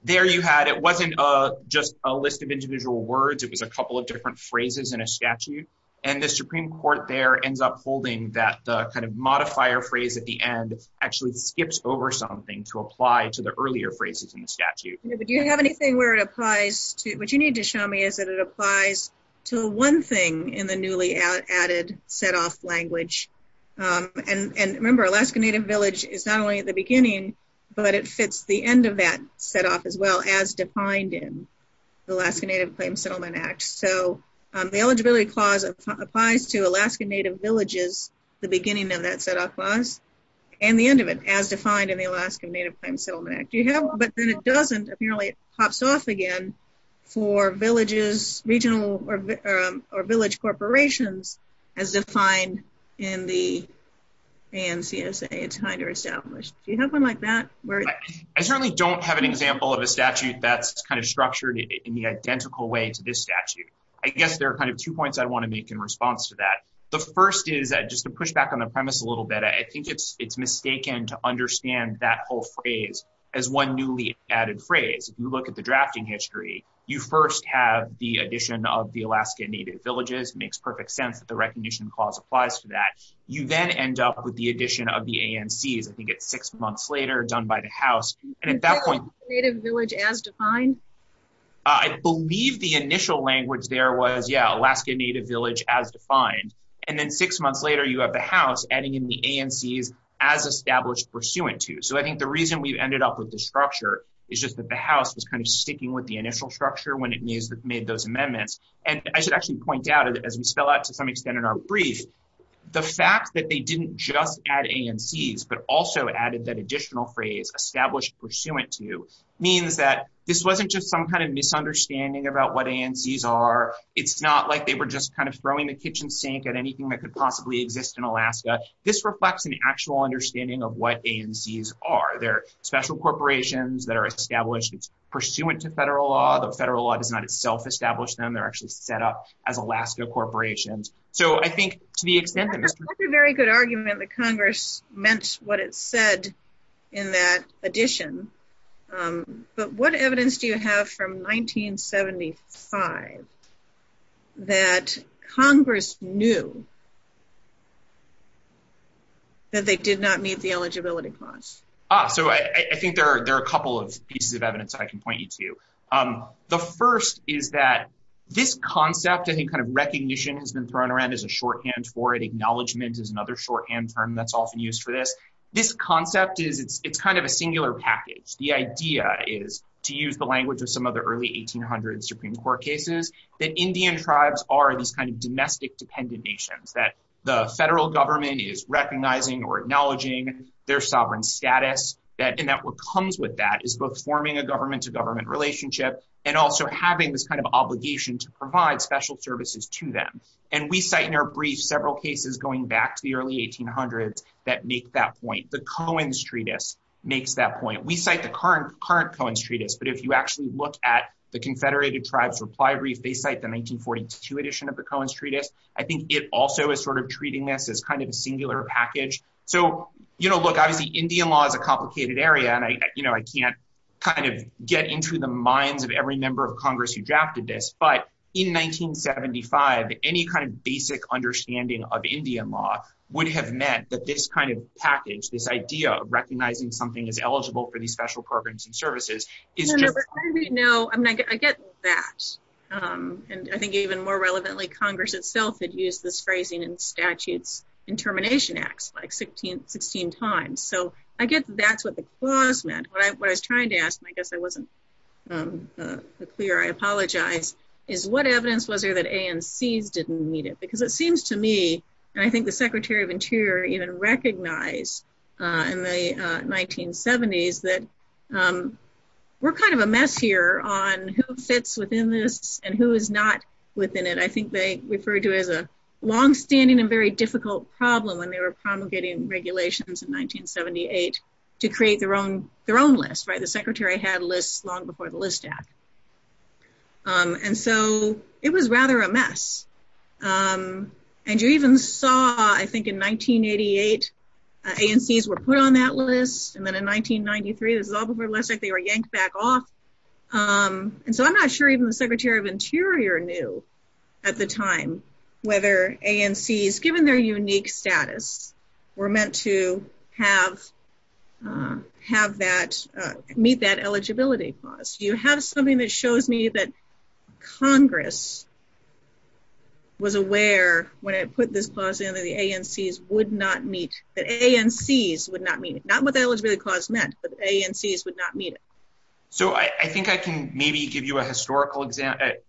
There you had, it wasn't just a list of individual words. It was a couple of different phrases in a statute. And the Supreme Court there ends up holding that kind of modifier phrase at the end actually skips over something to apply to the earlier phrases in the statute. Do you have anything where it applies to, what you need to show me is that it applies to one thing in the newly added set-off language. And remember Alaska Native Village is not only at the beginning, but it fits the end of that set-off as well as defined in the Alaska Native Claims Settlement Act. So the eligibility clause applies to Alaska Native Villages, the beginning of that set-off clause, and the end of it as defined in the Alaska Native Claims Settlement Act. But then it doesn't. Apparently it pops off again for villages, regional or village corporations as defined in the ANCSA, it's time to establish. Do you have one like that? I certainly don't have an example of a statute that's kind of structured in the identical way to this statute. I guess there are kind of two points I want to make in response to that. The first is that just to push back on the premise a little bit, I think it's mistaken to understand that whole phrase as one newly added phrase. If you look at the drafting history, you first have the addition of the Alaska Native Villages. It makes perfect sense that the recognition clause applies to that. You then end up with the addition of the ANC. I think it's six months later, done by the House. And at that point- Alaska Native Village as defined? I believe the initial language there was, yeah, Alaska Native Village as defined. And then six months later, you have the House adding in the ANCs as established pursuant to. So I think the reason we've ended up with this structure is just that the House was kind of sticking with the initial structure when it made those amendments. And I should actually point out, as we spell out to some extent in our brief, the fact that they didn't just add ANCs, but also added that additional phrase, established pursuant to, means that this wasn't just some kind of misunderstanding about what ANCs are. It's not like they were just kind of throwing the kitchen sink at anything that could possibly exist in Alaska. This reflects an actual understanding of what ANCs are. They're special corporations that are established pursuant to federal law. The federal law does not itself establish them. They're actually set up as Alaska corporations. So I think to the extent that there's- That's a very good argument that Congress meant what it said in that addition. But what evidence do you have from 1975 that Congress knew that they did not meet the eligibility clause? So I think there are a couple of pieces of evidence that I can point you to. The first is that this concept, any kind of recognition has been thrown around as a shorthand for it. Acknowledgement is another shorthand term that's often used for this. This concept is kind of a singular package. The idea is, to use the language of some of the early 1800 Supreme Court cases, that Indian tribes are this kind of domestic dependent nation, that the federal government is recognizing or acknowledging their sovereign status, and that what comes with that is both forming a government-to-government relationship and also having this kind of obligation to provide special services to them. And we cite in our brief several cases going back to the early 1800s that make that point. The Coen's Treatise makes that point. We cite the current Coen's Treatise, but if you actually look at the Confederated Tribes Reply Brief, they cite the 1942 edition of the Coen's Treatise. I think it also is sort of treating this as kind of a singular package. So, you know, look, obviously Indian law is a complicated area, and, you know, I can't kind of get into the minds of every member of Congress who drafted this, but in 1975, any kind of basic understanding of Indian law would have meant that this kind of package, this idea of recognizing something as eligible for these special programs and services. No, I mean, I get that, and I think even more relevantly, Congress itself had used this phrasing in statutes and termination acts like 16 times. So I guess that's what the clause meant. What I was trying to ask, and I guess I wasn't clear, I apologize, is what evidence was there that ANCs didn't need it? Because it seems to me, and I think the Secretary of Interior even recognized in the 1970s that we're kind of a mess here on who sits within this and who is not within it. I think they referred to it as a longstanding and very difficult problem when they were promulgating regulations in 1978 to create their own list, right? The Secretary had lists long before the List Act. And so it was rather a mess. And you even saw, I think in 1988, ANCs were put on that list, and then in 1993, it was all before the List Act, they were yanked back off. And so I'm not sure even the Secretary of Interior knew at the time whether ANCs, given their unique status, were meant to meet that eligibility clause. Do you have something that shows me that Congress was aware when it put this clause in that ANCs would not meet, that ANCs would not meet, not what the eligibility clause meant, but ANCs would not meet it? So I think I can maybe give you a historical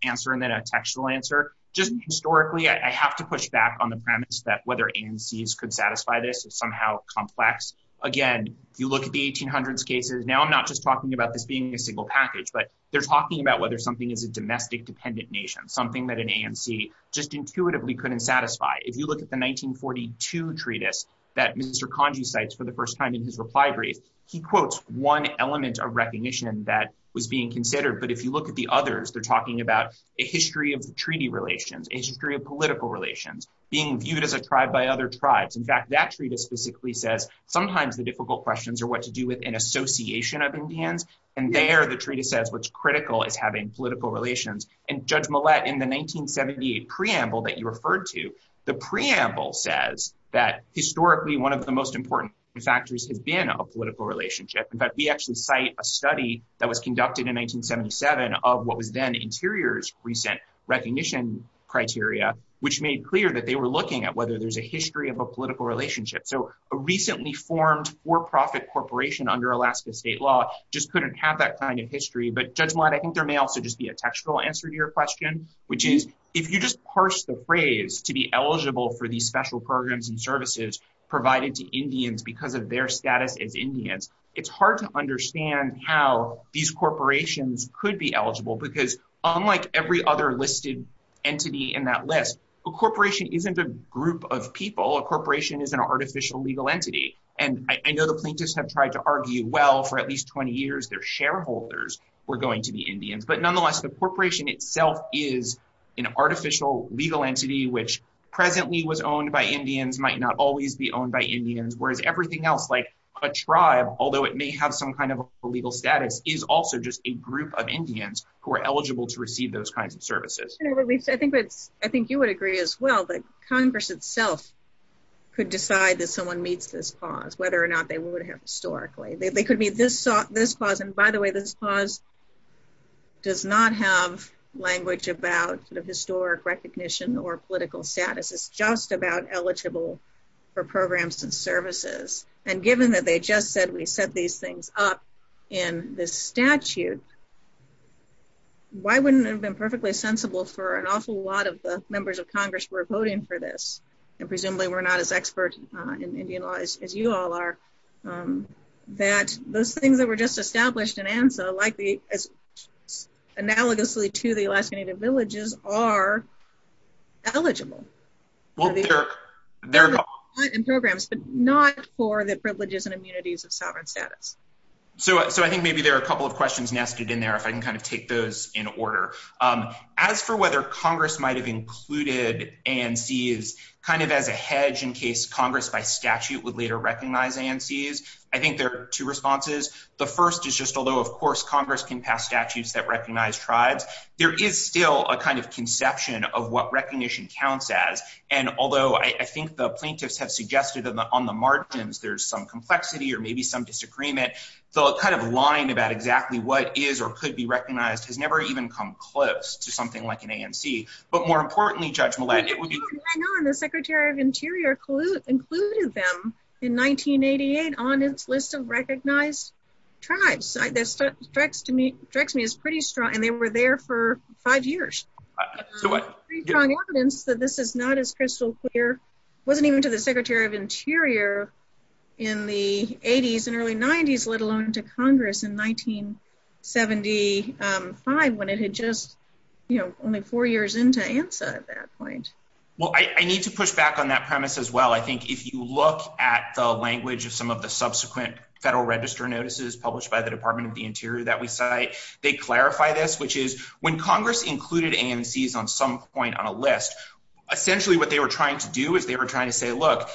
answer and then a textual answer. Just historically, I have to push back on the premise that whether ANCs could satisfy this is somehow complex. Again, you look at the 1800s cases, now I'm not just talking about this being a single package, but they're talking about whether something is a domestic dependent nation, something that an ANC just intuitively couldn't satisfy. If you look at the 1942 treatise that Mr. Congy cites for the first time in his refinery, he quotes one element of recognition that was being considered, but if you look at the others, they're talking about a history of treaty relations, a history of political relations, being viewed as a tribe by other tribes. In fact, that treatise specifically says sometimes the difficult questions are what to do with an association of Indians, and there the treatise says what's critical is having political relations. And Judge Millett, in the 1978 preamble that you referred to, the preamble says that historically one of the most important factors has been a political relationship. In fact, we actually cite a study that was conducted in 1977 of what was then Interior's recent recognition criteria, which made clear that they were looking at whether there's a history of a political relationship. So a recently formed for-profit corporation under Alaska state law just couldn't have that kind of history. But Judge Millett, I think there may also just be a textual answer to your question, which is if you just parse the phrase to be eligible for these special programs and services provided to Indians because of their status as Indians, it's hard to understand how these corporations could be eligible because unlike every other listed entity in that list, a corporation isn't a group of people. A corporation isn't an artificial legal entity. And I know the plaintiffs have tried to argue well for at least 20 years their shareholders were going to be Indians. But nonetheless, the corporation itself is an artificial legal entity which presently was owned by Indians, might not always be owned by Indians, whereas everything else like a tribe, although it may have some kind of legal status, is also just a group of Indians who are eligible to receive those kinds of services. I think you would agree as well that Congress itself could decide if someone meets this clause, whether or not they would have historically. It could be this clause, and by the way, this clause does not have language about sort of historic recognition or political status. It's just about eligible for programs and services. And given that they just said we set these things up in the statute, why wouldn't it have been perfectly sensible for an awful lot of the members of Congress who are voting for this, and presumably we're not as experts in Indian law as you all are, that those things that were just established in ANSA, like analogously to the Alaskan Native Villages, are eligible for these programs, but not for the privileges and immunities of sovereign status. So I think maybe there are a couple of questions nested in there if I can kind of take those in order. As for whether Congress might have included ANCs kind of as a hedge in case Congress by statute would later recognize ANCs, I think there are two responses. The first is just although, of course, Congress can pass statutes that recognize tribes, there is still a kind of conception of what recognition counts as, and although I think the plaintiffs have suggested on the margins there's some complexity or maybe some disagreement, the kind of line about exactly what is or could be recognized has never even come close to something like an ANC. But more importantly, Judge Millette, it would be- I know, and the Secretary of Interior included them in 1988 on its list of recognized tribes. That strikes me as pretty strong, and they were there for five years. So it's pretty strong evidence that this is not as crystal clear. It wasn't even to the Secretary of Interior in the 80s and early 90s, let alone to Congress in 1975 when it had just, you know, only four years into ANSA at that point. Well, I need to push back on that premise as well. I think if you look at the language of some of the subsequent Federal Register notices published by the Department of the Interior that we cite, they clarify this, which is when Congress included ANCs on some point on a list, essentially what they were trying to do is they were trying to say, look,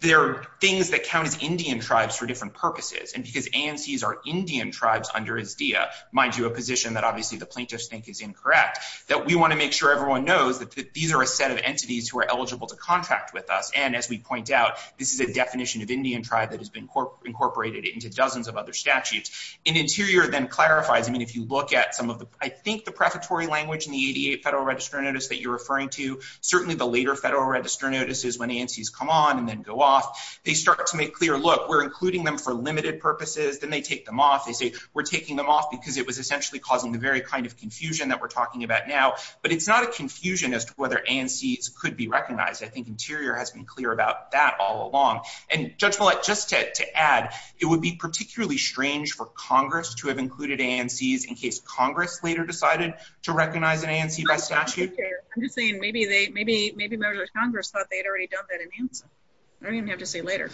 there are things that count as Indian tribes for different purposes, and because ANCs are Indian tribes under ISDEA, mind you, a position that obviously the plaintiffs think is incorrect, that we want to make sure everyone knows that these are a set of entities who are eligible to contract with us. And as we point out, this is a definition of Indian tribe that has been incorporated into dozens of other statutes. And Interior then clarifies. I mean, if you look at some of the- I think the preparatory language in the 88 Federal Register notice that you're referring to, certainly the later Federal Register notices when ANCs come on and then go off, they start to make clear, look, we're including them for limited purposes. Then they take them off. They say, we're taking them off because it was essentially causing the very kind of confusion that we're talking about now. But it's not a confusion as to whether ANCs could be recognized. I think Interior has been clear about that all along. And Judge Follett, just to add, it would be particularly strange for Congress to have included ANCs in case Congress later decided to recognize an ANC by statute. I'm just saying maybe Congress thought they'd already done that. I don't even have to say later.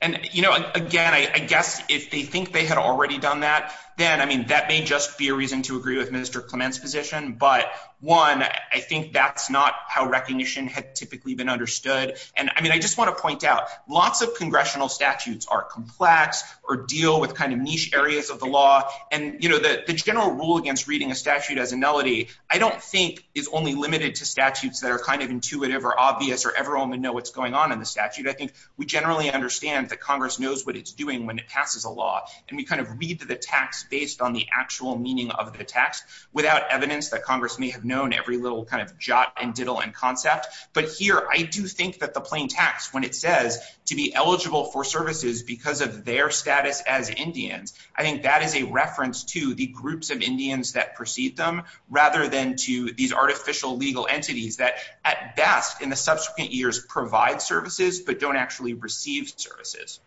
And, you know, again, I guess if they think they had already done that, then, I mean, that may just be a reason to agree with Minister Clement's position. But, one, I think that's not how recognition had typically been understood. And, I mean, I just want to point out, lots of congressional statutes are complex or deal with kind of niche areas of the law. And, you know, the general rule against reading a statute as a melody, I don't think is only limited to statutes that are kind of intuitive or obvious or everyone would know what's going on in the statute. I think we generally understand that Congress knows what it's doing when it passes a law. And we kind of read the text based on the actual meaning of the text without evidence that Congress may have known every little kind of jot and diddle and concept. But here, I do think that the plain text, when it says to be eligible for services because of their status as Indians, I think that is a reference to the groups of Indians that precede them rather than to these artificial legal entities that at best in the subsequent years provide services but don't actually receive services.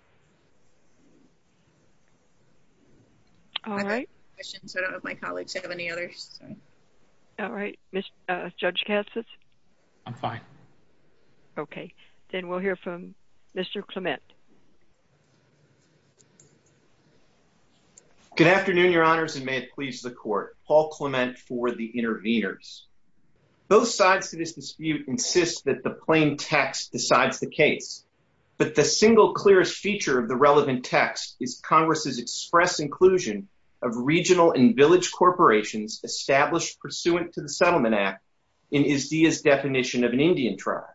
All right. Questions? I don't know if my colleagues have any others. All right. Judge Katsas? I'm fine. Okay. Then we'll hear from Mr. Clement. Good afternoon, Your Honors, and may it please the Court. Paul Clement for the Interveners. Both sides to this dispute insist that the plain text decides the case. But the single clearest feature of the relevant text is Congress's express inclusion of regional and village corporations established pursuant to the Settlement Act in IZDIA's definition of an Indian tribe.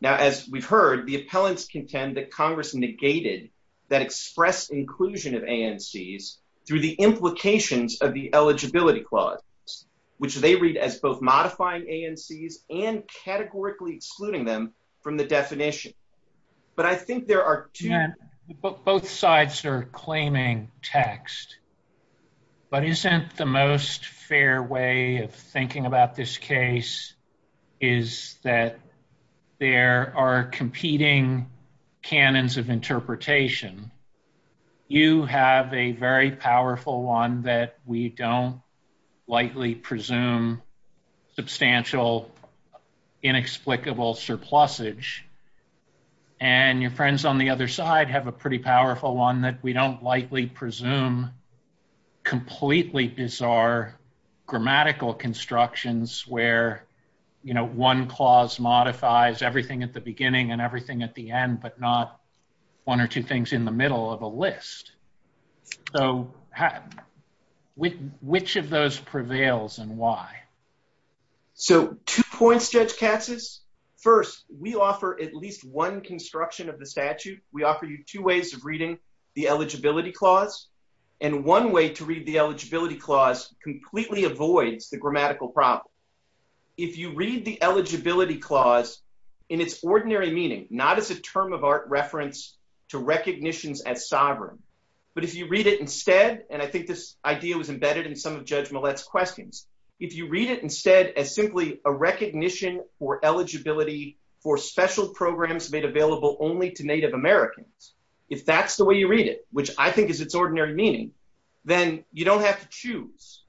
Now, as we've heard, the appellants contend that Congress's negated that express inclusion of ANCs through the implications of the eligibility clause, which they read as both modifying ANCs and categorically excluding them from the definition. But I think there are two – Both sides are claiming text. But isn't the most fair way of thinking about this case is that there are competing canons of interpretation. You have a very powerful one that we don't likely presume substantial inexplicable surplusage. And your friends on the other side have a pretty powerful one that we don't likely presume completely bizarre grammatical constructions where, you know, one clause modifies everything at the beginning and everything at the end, but not one or two things in the middle of a list. So which of those prevails and why? So two points, Judge Katzus. First, we offer at least one construction of the statute. We offer you two ways of reading the eligibility clause. And one way to read the eligibility clause completely avoids the grammatical problem. If you read the eligibility clause in its ordinary meaning, not as a term of art reference to recognitions as sovereign, but if you read it instead, and I think this idea was embedded in some of Judge Millett's questions, if you read it instead as simply a recognition for eligibility for special programs made available only to Native Americans, if that's the way you read it, which I think is its ordinary meaning, then you don't have to choose.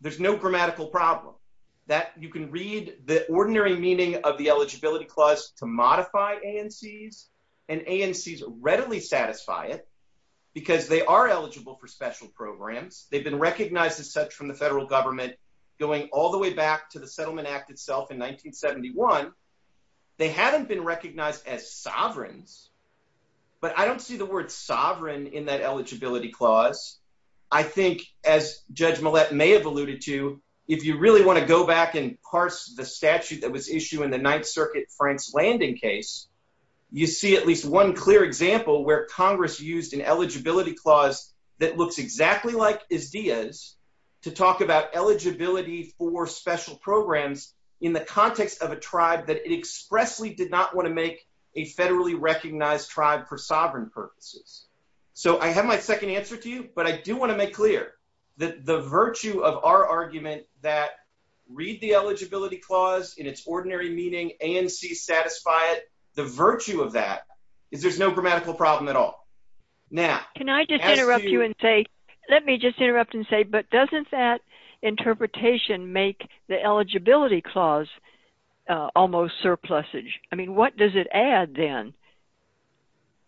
There's no grammatical problem. You can read the ordinary meaning of the eligibility clause to modify ANCs, and ANCs readily satisfy it because they are eligible for special programs. They've been recognized as such from the federal government going all the way back to the Settlement Act itself in 1971. They haven't been recognized as sovereigns, but I don't see the word sovereign in that eligibility clause. I think, as Judge Millett may have alluded to, if you really want to go back and parse the statute that was issued in the Ninth Circuit Frank's Landing case, you see at least one clear example where Congress used an eligibility clause that looks exactly like Izdiyaz to talk about eligibility for special programs in the context of a tribe that expressly did not want to make a federally recognized tribe for sovereign purposes. So I have my second answer to you, but I do want to make clear that the virtue of our argument that read the eligibility clause in its ordinary meaning, ANCs satisfy it, the virtue of that is there's no grammatical problem at all. Can I just interrupt you and say, let me just interrupt and say, but doesn't that interpretation make the eligibility clause almost surplusage? I mean, what does it add then?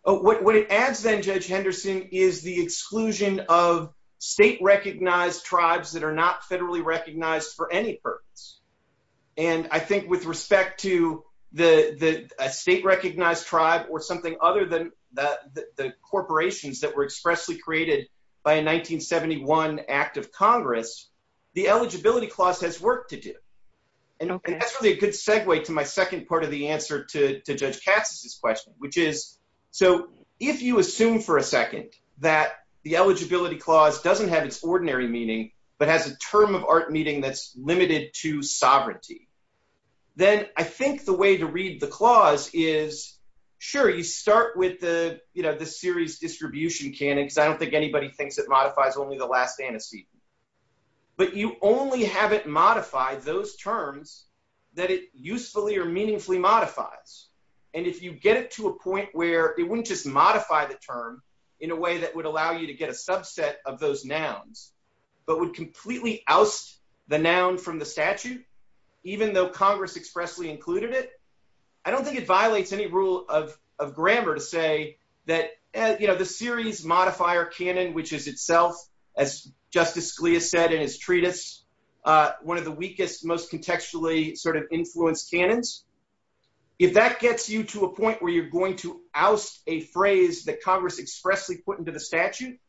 What it adds then, Judge Henderson, is the exclusion of state-recognized tribes that are not federally recognized for any purpose. And I think with respect to a state-recognized tribe or something other than the corporations that were expressly created by a 1971 Act of Congress, the eligibility clause has work to do. And that's really a good segue to my second part of the answer to Judge Henderson, which is, so, if you assume for a second that the eligibility clause doesn't have its ordinary meaning, but has a term of art meaning that's limited to sovereignty, then I think the way to read the clause is, sure, you start with the, you know, the serious distribution canons. I don't think anybody thinks it modifies only the last antecedent, but you only have it modified those terms that it usefully or meaningfully modifies. And if you get it to a point where it wouldn't just modify the term in a way that would allow you to get a subset of those nouns, but would completely oust the noun from the statute, even though Congress expressly included it, I don't think it violates any rule of grammar to say that, you know, the serious modifier canon, which is itself, as Justice Scalia said, in his treatise, one of the weakest, most contextually sort of influenced canons. If that gets you to a point where you're going to oust a phrase that Congress expressly put into the statute,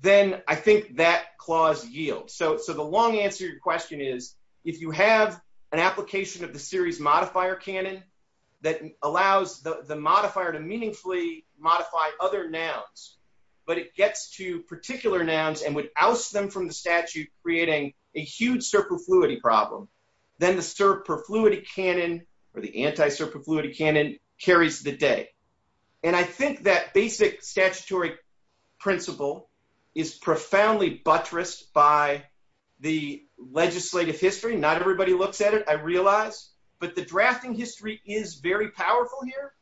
then I think that clause yields. So the long answer to your question is, if you have an application of the serious modifier canon that allows the modifier to meaningfully modify other nouns, but it gets to particular nouns and would oust them from the statute, you're creating a huge surplus fluidity problem. Then the surplus fluidity canon or the anti-surplus fluidity canon carries the day. And I think that basic statutory principle is profoundly buttressed by the legislative history. Not everybody looks at it, I realize, but the drafting history is very powerful here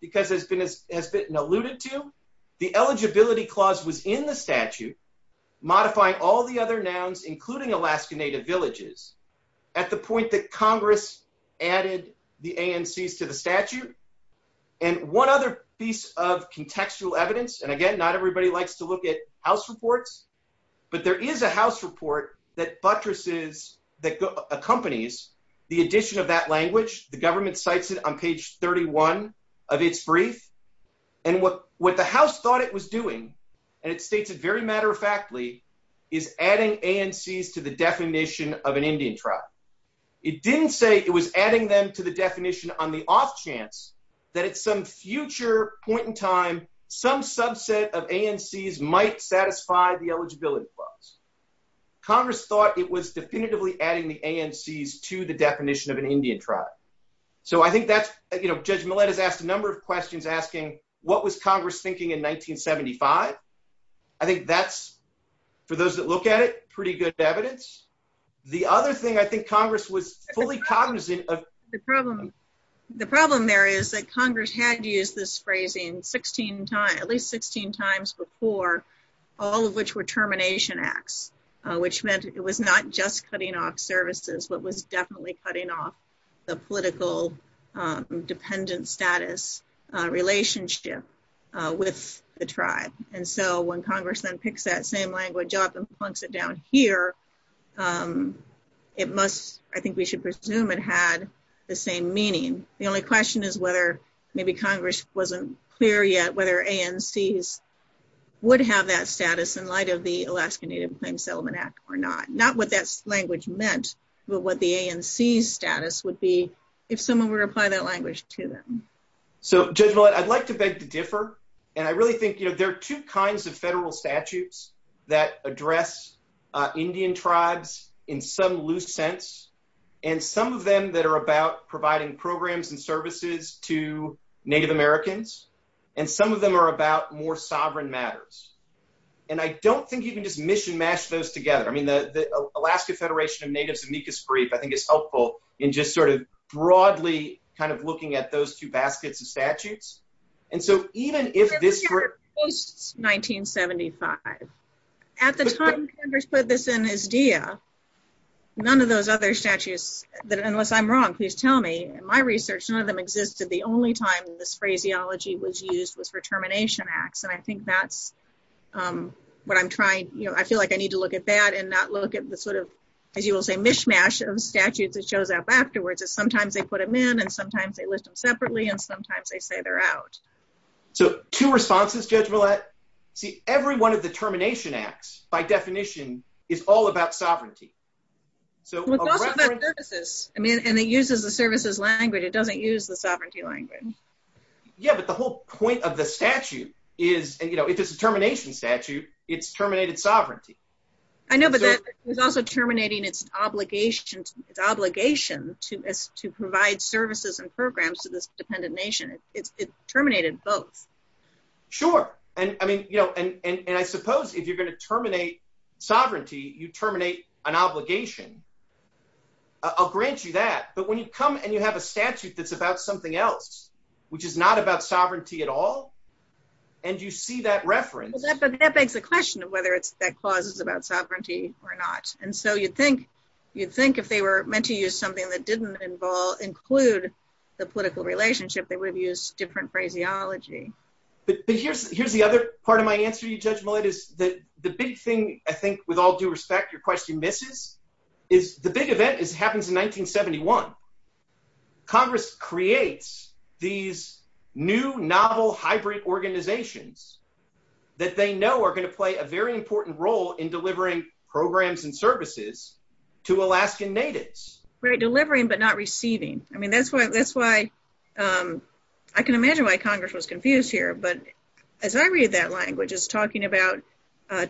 because it's been, has been alluded to the eligibility clause within the statute, modifying all the other nouns, including Alaska native villages at the point that Congress added the ANCs to the statute. And one other piece of contextual evidence. And again, not everybody likes to look at house reports, but there is a house report that buttresses that accompanies the addition of that language. The government cites it on page 31 of his brief. And what the house thought it was doing, and it states it very matter of factly, is adding ANCs to the definition of an Indian tribe. It didn't say it was adding them to the definition on the off chance that at some future point in time, some subset of ANCs might satisfy the eligibility clause. Congress thought it was definitively adding the ANCs to the definition of an Indian tribe. So I think that's, you know, there's a number of questions asking what was Congress thinking in 1975? I think that's, for those that look at it, pretty good evidence. The other thing I think Congress was fully cognizant of. The problem. The problem there is that Congress had to use this phrasing 16 times, at least 16 times before all of which were termination acts, which meant it was not just cutting off services, but was definitely cutting off the political dependent status relationship with the tribe. And so when Congress then picks that same language up and plunks it down here, it must, I think we should presume it had the same meaning. The only question is whether maybe Congress wasn't clear yet whether ANCs would have that status in light of the Alaska Native Claims Settlement Act or not. Not what that language meant, but what the ANC status would be if someone were to apply that language to them. So Judge Millett, I'd like to beg to differ. And I really think, you know, there are two kinds of federal statutes that address Indian tribes in some loose sense. And some of them that are about providing programs and services to Native Americans. And some of them are about more sovereign matters. And I don't think you can just mish and mash those together. I mean, the Alaska Federation of Native Amicus Brief, I think it's helpful in just sort of broadly kind of looking at those two baskets of statutes. And so even if this... Post-1975. At the time Congress put this in as DEA, none of those other statutes, unless I'm wrong, please tell me, in my research none of them existed. The only time this phraseology was used was for termination acts. And I think that's what I'm trying, you know, I feel like I need to look at that and not look at the sort of, as you will say, mishmash of statutes that shows up afterwards. Sometimes they put them in and sometimes they list them separately and sometimes they say they're out. So two responses, Judge Millett. See every one of the termination acts by definition is all about sovereignty. It's also about services. I mean, and it uses the services language. It doesn't use the sovereignty language. Yeah, but the whole point of the statute is, you know, if it's a termination statute, it's terminated sovereignty. I know, but it's also terminating its obligation to provide services and programs to this dependent nation. It's terminated both. Sure. And I mean, you know, and I suppose if you're going to terminate sovereignty, you terminate an obligation. I'll grant you that. But when you come and you have a statute that's about something else, which is not about sovereignty at all. And you see that reference. That begs the question of whether that clause is about sovereignty or not. And so you'd think, you'd think if they were meant to use something that didn't involve, include the political relationship, they would use different phraseology. Here's the other part of my answer, Judge Millett, is that the big thing, I think with all due respect, your question misses, is the big event is happens in 1971. Congress creates these new novel hybrid organizations that they know are going to play a very important role in delivering programs and services to Alaskan natives. Right. Delivering, but not receiving. I mean, that's why, that's why, I can imagine why Congress was confused here, but as I read that language is talking about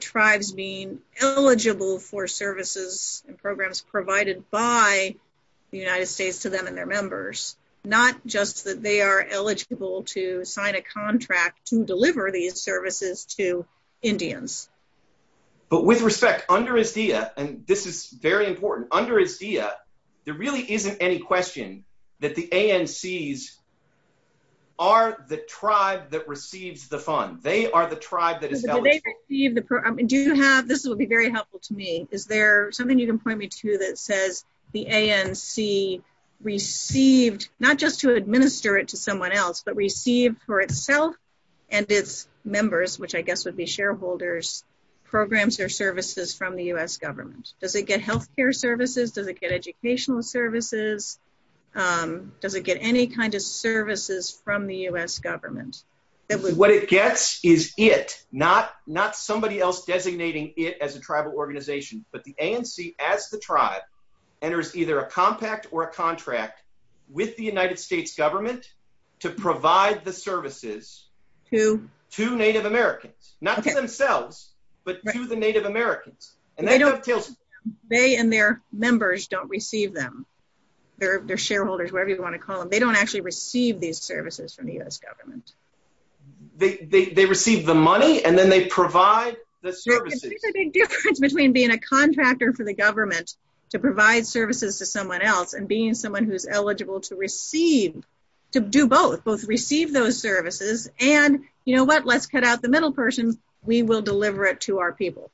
tribes being eligible for services to Alaskan natives, not just that they are eligible to sign a contract to deliver these services to Indians. But with respect under ASEA, and this is very important under ASEA, there really isn't any question that the ANCs are the tribe that receives the fund. They are the tribe that is. This will be very helpful to me. Is there something you can point me to, that says the ANC received, not just to administer it to someone else, but received for itself and its members, which I guess would be shareholders, programs or services from the U.S. government. Does it get healthcare services? Does it get educational services? Does it get any kind of services from the U.S. government? What it gets is it, not somebody else designating it as a tribal organization, but the ANC as the tribe enters either a compact or a contract with the United States government to provide the services to Native Americans, not to themselves, but to the Native Americans. They and their members don't receive them, their shareholders, whatever you want to call them. They don't actually receive these services from the U.S. government. They receive the money and then they provide the services. These are the differences between being a contractor for the government to provide services to someone else and being someone who's eligible to receive, to do both, both receive those services. And you know what? Let's cut out the middle person. We will deliver it to our people.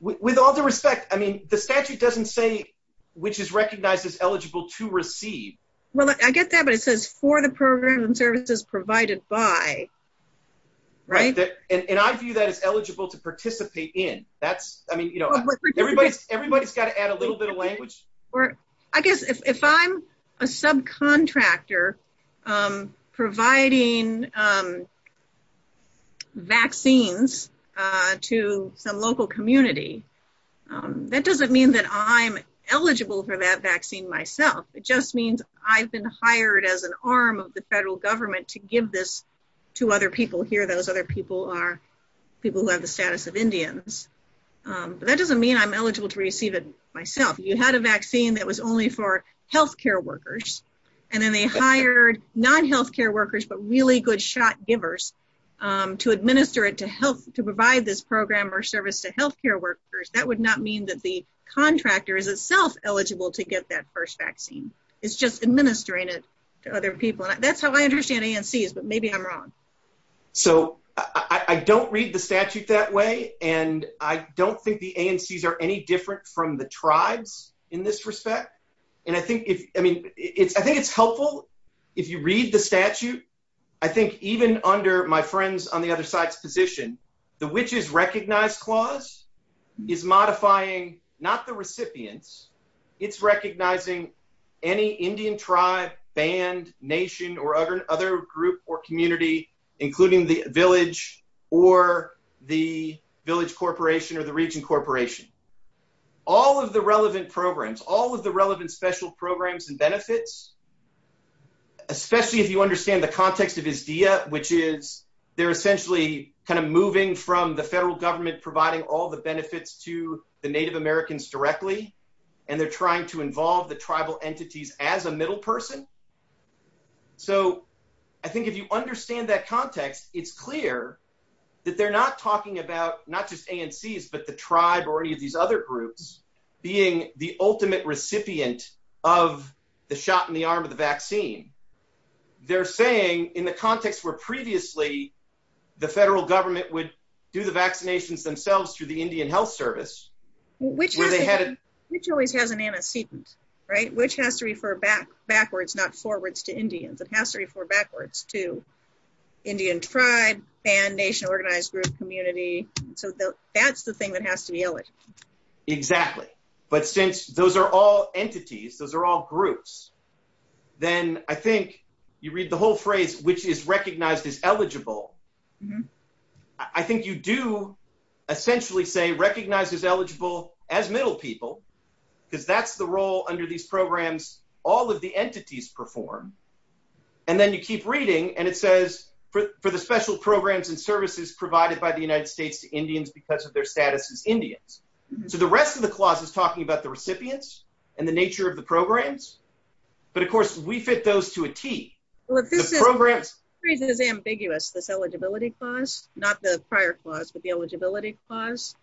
With all due respect, I mean, the statute doesn't say, which is recognized as eligible to receive. Well, I get that, but it says for the programs and services provided by. Right. And I view that as eligible to participate in that. I mean, you know, everybody's got to add a little bit of language. I guess if I'm a subcontractor providing vaccines to some local community, that doesn't mean that I'm eligible for that vaccine myself. It just means I've been hired as an arm of the federal government to give this vaccine to other people here. Those other people are people who have the status of Indians. But that doesn't mean I'm eligible to receive it myself. You had a vaccine that was only for healthcare workers and then they hired non-healthcare workers, but really good shot givers to administer it to help to provide this program or service to healthcare workers. That would not mean that the contractor is itself eligible to get that first vaccine. It's just administering it to other people. That's how I understand ANCs, but maybe I'm wrong. So I don't read the statute that way. And I don't think the ANCs are any different from the tribes in this respect. And I think it's helpful if you read the statute. I think even under my friends on the other side's position, the which is recognized clause is modifying, not the recipients, it's recognizing any Indian tribe, band, nation, or other group or community, including the village or the village corporation or the region corporation. All of the relevant programs, all of the relevant special programs and benefits, especially if you understand the context of IZEA, which is they're essentially kind of moving from the federal government providing all the benefits to the native Americans directly. And they're trying to involve the tribal entities as a middle person. So I think if you understand that context, it's clear that they're not talking about not just ANCs, but the tribe or any of these other groups being the ultimate recipient of the shot in the arm of the vaccine. They're saying in the context where previously the federal government would do the vaccinations themselves through the Indian health service, which always has an antecedent, right? Which has to refer backwards, not forwards to Indians. It has to refer backwards to Indian tribe, band, nation, organized group, community. So that's the thing that has to be eligible. Exactly. But since those are all entities, those are all groups, then I think you read the whole phrase, which is recognized as eligible. I think you do essentially say recognized as eligible as middle people, because that's the role under these programs, all of the entities perform. And then you keep reading and it says for the special programs and services provided by the United States to Indians because of their status as Indians. So the rest of the clause is talking about the recipients and the nature of the programs. But of course we fit those to a T. This is ambiguous. This eligibility clause, not the prior clause, but the eligibility clause.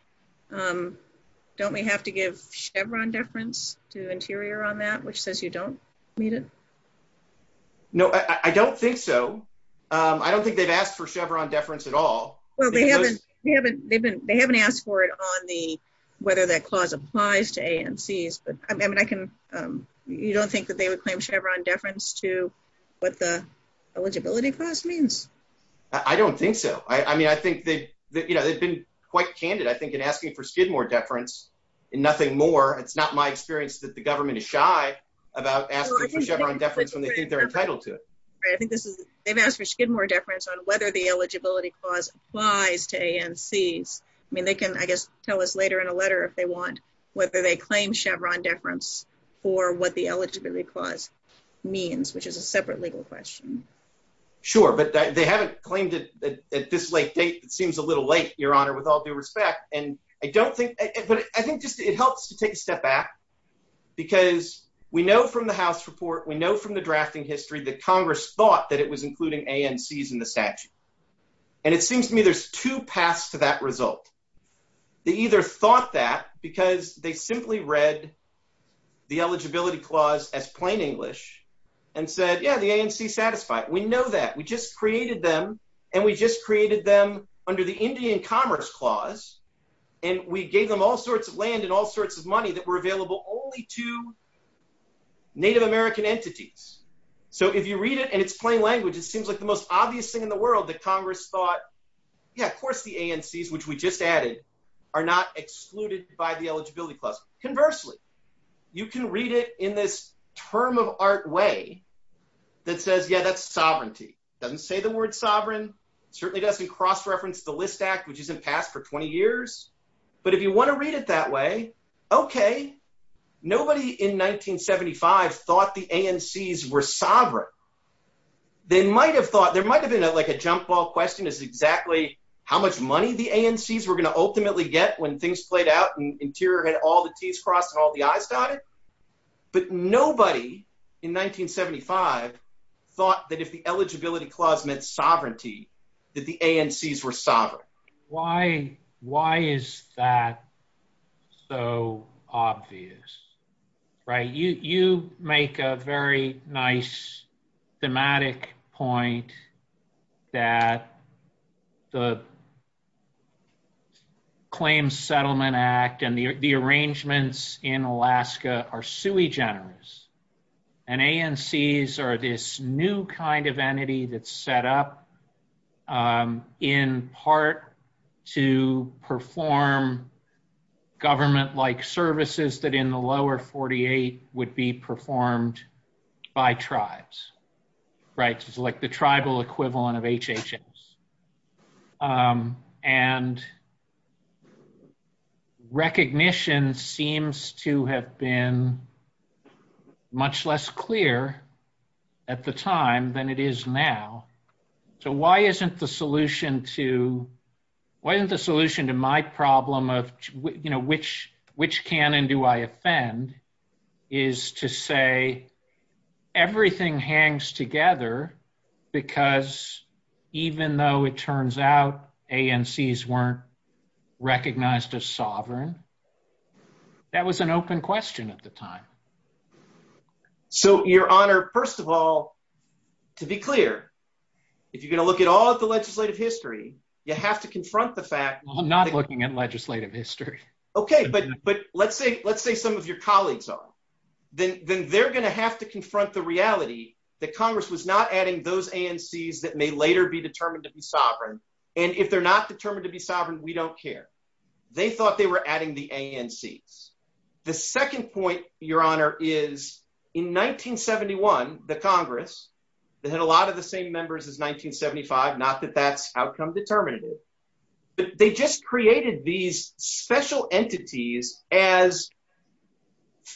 Don't we have to give Chevron deference to the interior on that, which says you don't need it? No, I don't think so. I don't think they've asked for Chevron deference at all. They haven't asked for it on the, whether that clause applies to ANCs. You don't think that they would claim Chevron deference to what the eligibility clause means? I don't think so. I mean, I think they, you know, they've been quite candid. I think in asking for Skidmore deference and nothing more, it's not my experience that the government is shy about asking for Chevron deference when they think they're entitled to it. They've asked for Skidmore deference on whether the eligibility clause applies to ANCs. I mean, they can, I guess, tell us later in a letter if they want whether they claim Chevron deference for what the eligibility clause means, which is a separate legal question. Sure. But they haven't claimed it at this late date. It seems a little late, Your Honor, with all due respect. And I don't think, I think just it helps to take a step back because we know from the house report, we know from the drafting history, that Congress thought that it was including ANCs in the statute. And it seems to me there's two paths to that result. They either thought that because they simply read the eligibility clause as plain English and said, yeah, the ANC satisfied. We know that. We just created them and we just created them under the Indian commerce clause. And we gave them all sorts of land and all sorts of money that were available only to Native American entities. So if you read it and it's plain language, it seems like the most obvious thing in the world that Congress thought, yeah, of course the ANCs, which we just added are not excluded by the eligibility clause. Conversely, you can read it in this term of art way that says, yeah, that's sovereignty. It doesn't say the word sovereign. It certainly doesn't cross-reference the List Act, which is an act for 20 years. But if you want to read it that way, okay. Nobody in 1975 thought the ANCs were sovereign. They might've thought, there might've been like a jump ball question is exactly how much money the ANCs were going to ultimately get when things played out and Interior had all the Ts crossed and all the Is died. But nobody in 1975 thought that if the eligibility clause meant sovereignty, that the ANCs were sovereign. Why is that so obvious? You make a very nice thematic point that the Claims Settlement Act and the arrangements in Alaska are sui generis. And ANCs are this new kind of entity that's set up in part to perform government-like services that in the lower 48 would be performed by tribes, right? So it's like the tribal equivalent of HHS. And recognition seems to have been much less clear at the time than it is now. So why isn't the solution to, why isn't the solution to my problem of, you know, which, which can and do I offend is to say everything hangs together because even though it turns out ANCs weren't recognized as sovereign, that was an open question at the time. So your honor, first of all, to be clear, if you're going to look at all of the legislative history, you have to confront the fact. I'm not looking at legislative history. Okay. But, but let's say, let's say some of your colleagues are, then they're going to have to confront the reality that Congress was not adding those ANCs that may later be determined to be sovereign. And if they're not determined to be sovereign, we don't care. They thought they were adding the ANCs. The second point your honor is in 1971, the Congress that had a lot of the same members as 1975, not that that's outcome determinative, but they just created these special entities as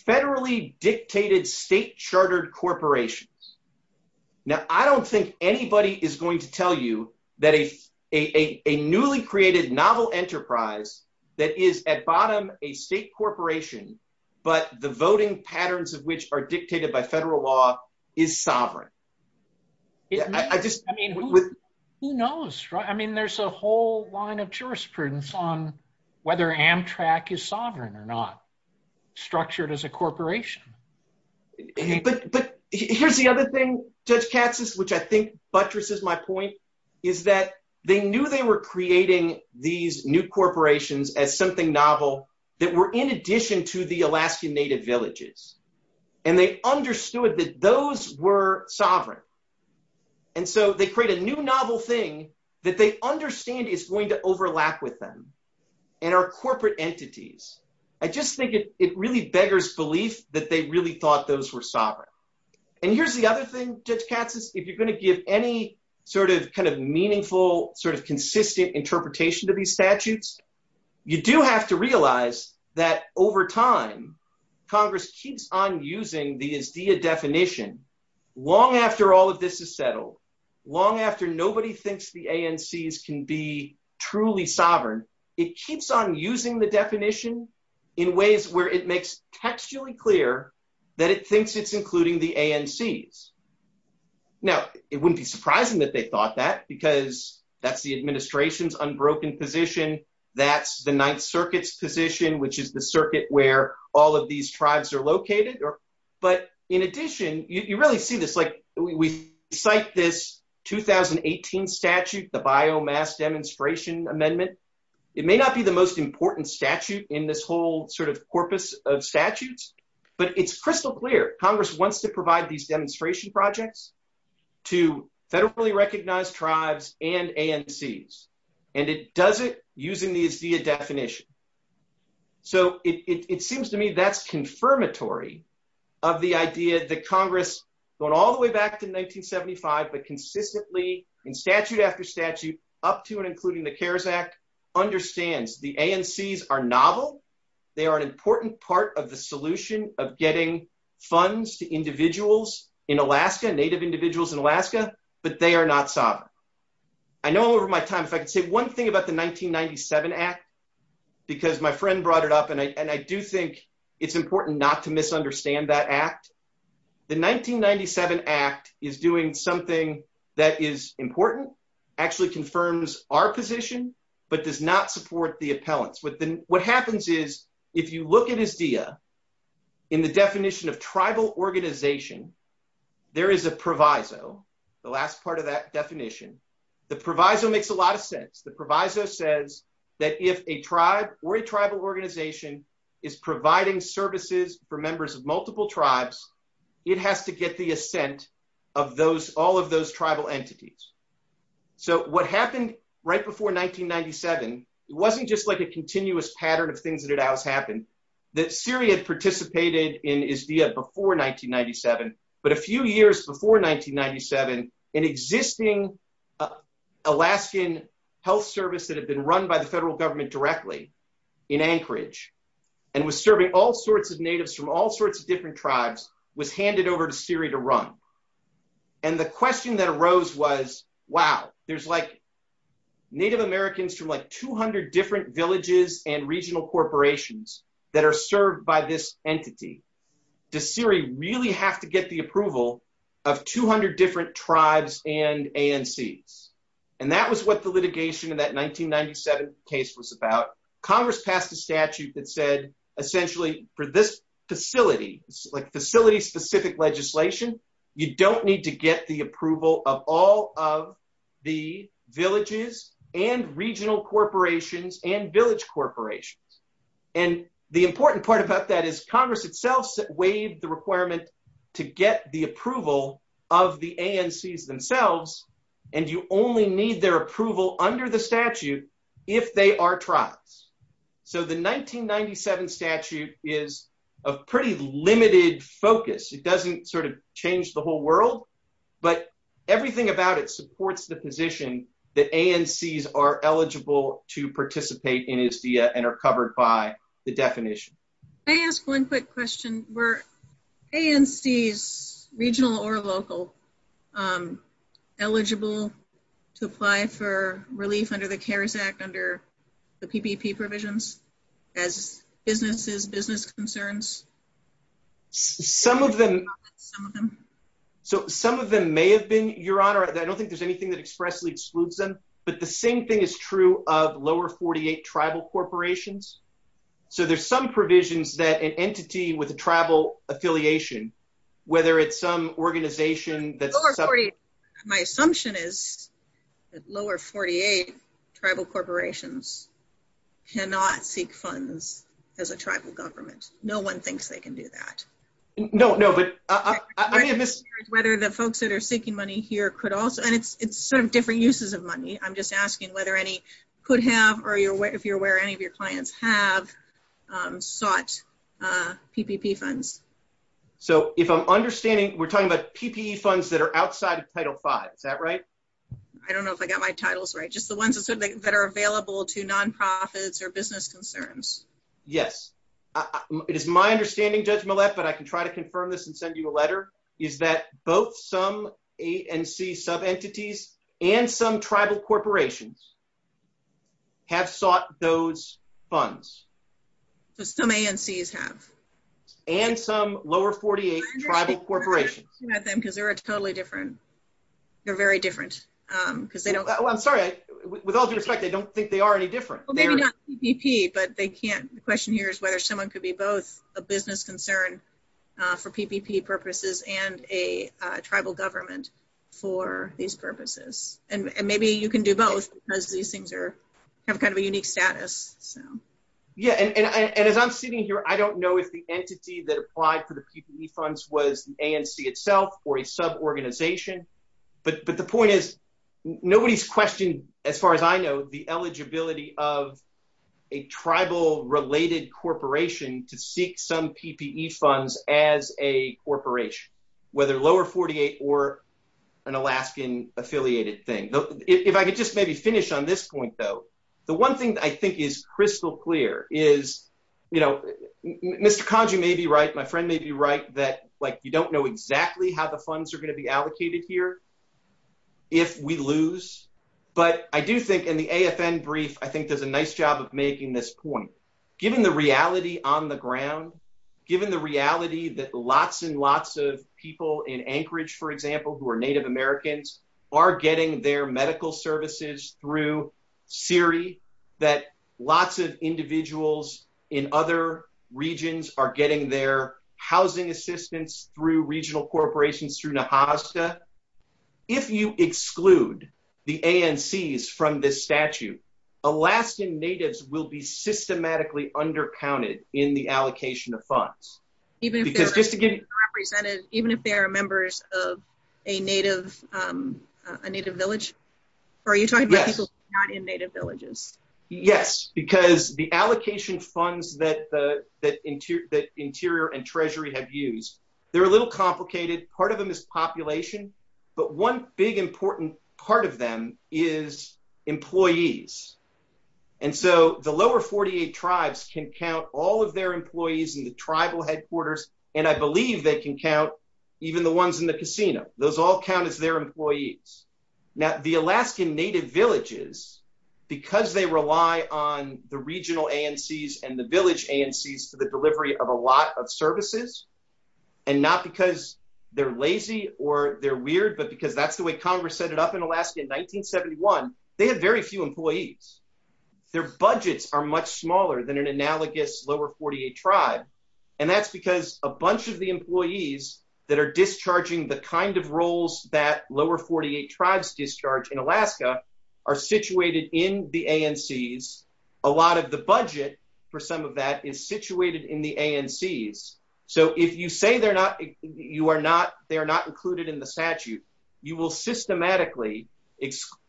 federally dictated state chartered corporations. Now I don't think anybody is going to tell you that a, a, a state corporation, but the voting patterns of which are dictated by federal law is sovereign. Yeah. I just, I mean, Who knows, right? I mean, there's a whole line of jurisprudence on whether Amtrak is sovereign or not structured as a corporation. But here's the other thing Judge Katsas, which I think buttresses my point, is that they knew they were creating these new corporations as something novel that were in addition to the Alaskan native villages. And they understood that those were sovereign. And so they create a new novel thing that they understand is going to overlap with them and our corporate entities. I just think it really beggars belief that they really thought those were sovereign. And here's the other thing, Judge Katsas, if you're going to give any sort of kind of meaningful sort of consistent interpretation to these statutes, you do have to realize that over time, Congress keeps on using the Izdia definition long after all of this is settled, long after nobody thinks the ANCs can be truly sovereign. It keeps on using the definition in ways where it makes textually clear that it thinks it's including the ANCs. Now it wouldn't be surprising that they thought that because that's the Ninth Circuit's position, which is the circuit where all of these tribes are located. But in addition, you really see this like we cite this 2018 statute, the biomass demonstration amendment. It may not be the most important statute in this whole sort of corpus of statutes, but it's crystal clear. Congress wants to provide these demonstration projects to federally recognized tribes and ANCs. And it does it using the Izdia definition. So it seems to me that's confirmatory of the idea that Congress, going all the way back to 1975, but consistently in statute after statute up to and including the CARES Act, understands the ANCs are novel. They are an important part of the solution of getting funds to individuals in Alaska, but they are not sovereign. I know over my time, if I could say, one thing about the 1997 act, because my friend brought it up and I, and I do think it's important not to misunderstand that act. The 1997 act is doing something that is important, actually confirms our position, but does not support the appellants. What happens is if you look at Izdia in the definition of tribal organization, there is a proviso, the last part of that definition. The proviso makes a lot of sense. The proviso says that if a tribe or a tribal organization is providing services for members of multiple tribes, it has to get the assent of those, all of those tribal entities. So what happened right before 1997 wasn't just like a continuous pattern of things that had always happened, that Syria had participated in Izdia before 1997, but a few years before 1997 an existing Alaskan health service that had been run by the federal government directly in Anchorage and was serving all sorts of natives from all sorts of different tribes was handed over to Syria to run. And the question that arose was, wow, there's like Native Americans from like 200 different villages and regional corporations that are served by this entity. Does Syria really have to get the approval of 200 different tribes and ANCs? And that was what the litigation in that 1997 case was about. Congress passed a statute that said essentially for this facility, like facility specific legislation, you don't need to get the approval of all of the villages and regional corporations and village corporations. And the important part about that is Congress itself waived the requirement to get the approval of the ANCs themselves. And you only need their approval under the statute if they are tribes. So the 1997 statute is a pretty limited focus. It doesn't sort of change the whole world, but everything about it supports the position that ANCs are eligible to participate in ISDEA and are covered by the definition. Can I ask one quick question? Were ANCs, regional or local, eligible to apply for relief under the CARES Act, under the PPP provisions as businesses, business concerns? Some of them. So some of them may have been, Your Honor, I don't think there's anything that expressly excludes them, but the same thing is true of lower 48 tribal corporations. So there's some provisions that an entity with a tribal affiliation, whether it's some organization. My assumption is that lower 48 tribal corporations cannot seek funds as a tribal government. No one thinks they can do that. No, no, but. Whether the folks that are seeking money here could also, and it's sort of different uses of money. I'm just asking whether any could have, or if you're aware, any of your clients have sought PPP funds. So if I'm understanding, we're talking about PPE funds that are outside of Title V. Is that right? I don't know if I got my titles right. Just the ones that are available to nonprofits or business concerns. Yes. It is my understanding, Judge Millett, but I can try to confirm this and send you a letter, is that both some ANC sub-entities and some tribal corporations have sought those funds. Some ANCs have. And some lower 48 tribal corporations. Because they were totally different. They're very different. I'm sorry, with all due respect, I don't think they are any different. Well, maybe not PPP, but they can't. The question here is whether someone could be both a business concern for PPP purposes and a tribal government for these purposes. And maybe you can do both because these things are kind of a unique status. Yeah. And as I'm sitting here, I don't know if the entity that applied for the PPE funds was ANC itself or a sub-organization. But the point is, nobody's questioned, as far as I know, the eligibility of a tribal-related corporation to seek some PPE funds as a corporation, whether lower 48 or an Alaskan-affiliated thing. If I could just maybe finish on this point, though. The one thing that I think is crystal clear is, you know, Mr. Kanji may be right. My friend may be right that like you don't know exactly how the funds are going to be allocated here if we lose. But I do think in the AFN brief, I think there's a nice job of making this point. Given the reality on the ground, given the reality that lots and lots of people in Anchorage, for example, who are Native Americans, are getting their medical services through CIRI, that lots of individuals in other regions are getting their housing assistance through regional corporations, through NAHASDA. If you exclude the ANCs from this statute, Alaskan Natives will be systematically undercounted in the allocation of funds. Even if they are members of a Native village? Are you talking about people not in Native villages? Yes. Because the allocation funds that Interior and Treasury have used, they're a little complicated. Part of them is population, but one big important part of them is employees. And so the lower 48 tribes can count all of their employees in the tribal headquarters, and I believe they can count even the ones in the casino. Those all count as their employees. Now the Alaskan Native villages, because they rely on the regional ANCs and the village ANCs for the delivery of a lot of services, and not because they're lazy or they're weird, but because that's the way Congress set it up in Alaska in 1971, they have very few employees. Their budgets are much smaller than an analogous lower 48 tribe. And that's because a bunch of the employees that are discharging the kind of roles that lower 48 tribes discharge in Alaska are situated in the ANCs. A lot of the budget for some of that is situated in the ANCs. So if you say they're not included in the statute, you will systematically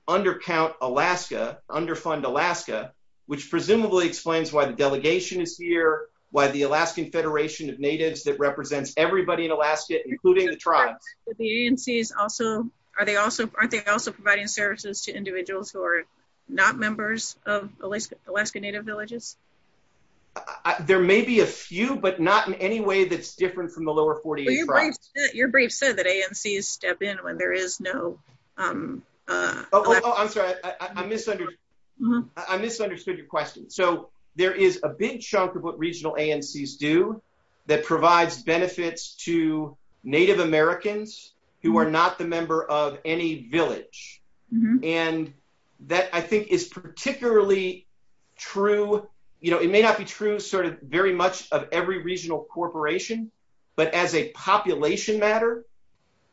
undercount Alaska, underfund Alaska, which presumably explains why the delegation is here, why the Alaskan Federation of Natives that represents everybody in Alaska, including the tribe. The ANCs also, aren't they also providing services to individuals who are not members of Alaska Native villages? There may be a few, but not in any way that's different from the lower 48 tribes. Your brief said that ANCs step in when there is no. Oh, I'm sorry. I misunderstood. I misunderstood your question. So there is a big chunk of what regional ANCs do that provides benefits to Native Americans who are not the member of any village. And that I think is particularly true. You know, it may not be true sort of very much of every regional corporation, but as a population matter,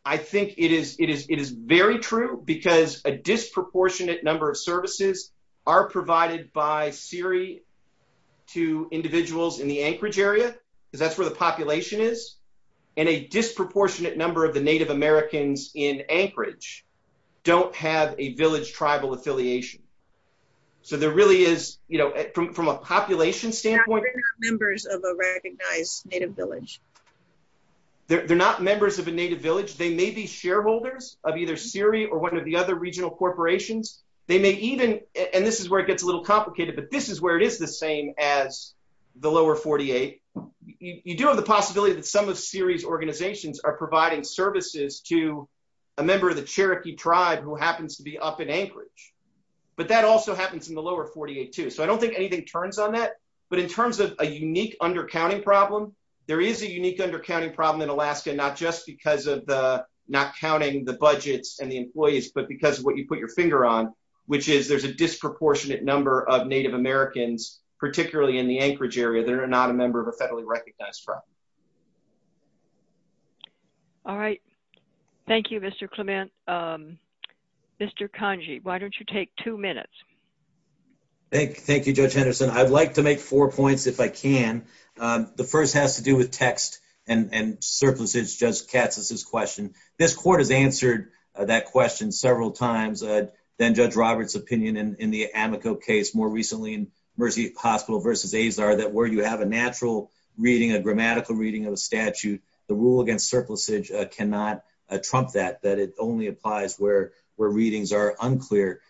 I think it is, it is, it is very true because a disproportionate number of services are provided by Siri to individuals in the Anchorage area, because that's where the population is and a disproportionate number of the people who don't have a village tribal affiliation. So there really is, you know, from, from a population standpoint. They're not members of a recognized Native village. They're not members of a Native village. They may be shareholders of either Siri or one of the other regional corporations. They may even, and this is where it gets a little complicated, but this is where it is the same as the lower 48. You do have the possibility that some of Siri's organizations are providing services to a member of the Cherokee tribe who happens to be up in Anchorage, but that also happens in the lower 48 too. So I don't think anything turns on that, but in terms of a unique undercounting problem, there is a unique undercounting problem in Alaska, not just because of the not counting the budgets and the employees, but because of what you put your finger on, which is there's a disproportionate number of Native Americans, particularly in the Anchorage area. They're not a member of a federally recognized tribe. All right. Thank you, Mr. Clement. Mr. Kanji, why don't you take two minutes? Thank you. Thank you, Judge Henderson. I'd like to make four points if I can. The first has to do with text and surpluses. Judge Katz has this question. This court has answered that question several times. Then Judge Roberts' opinion in the Amico case more recently in Mercy Hospital versus Azar that where you have a natural reading, a grammatical reading of the statute, the rule against surplusage cannot trump that, that it only applies where readings are unclear.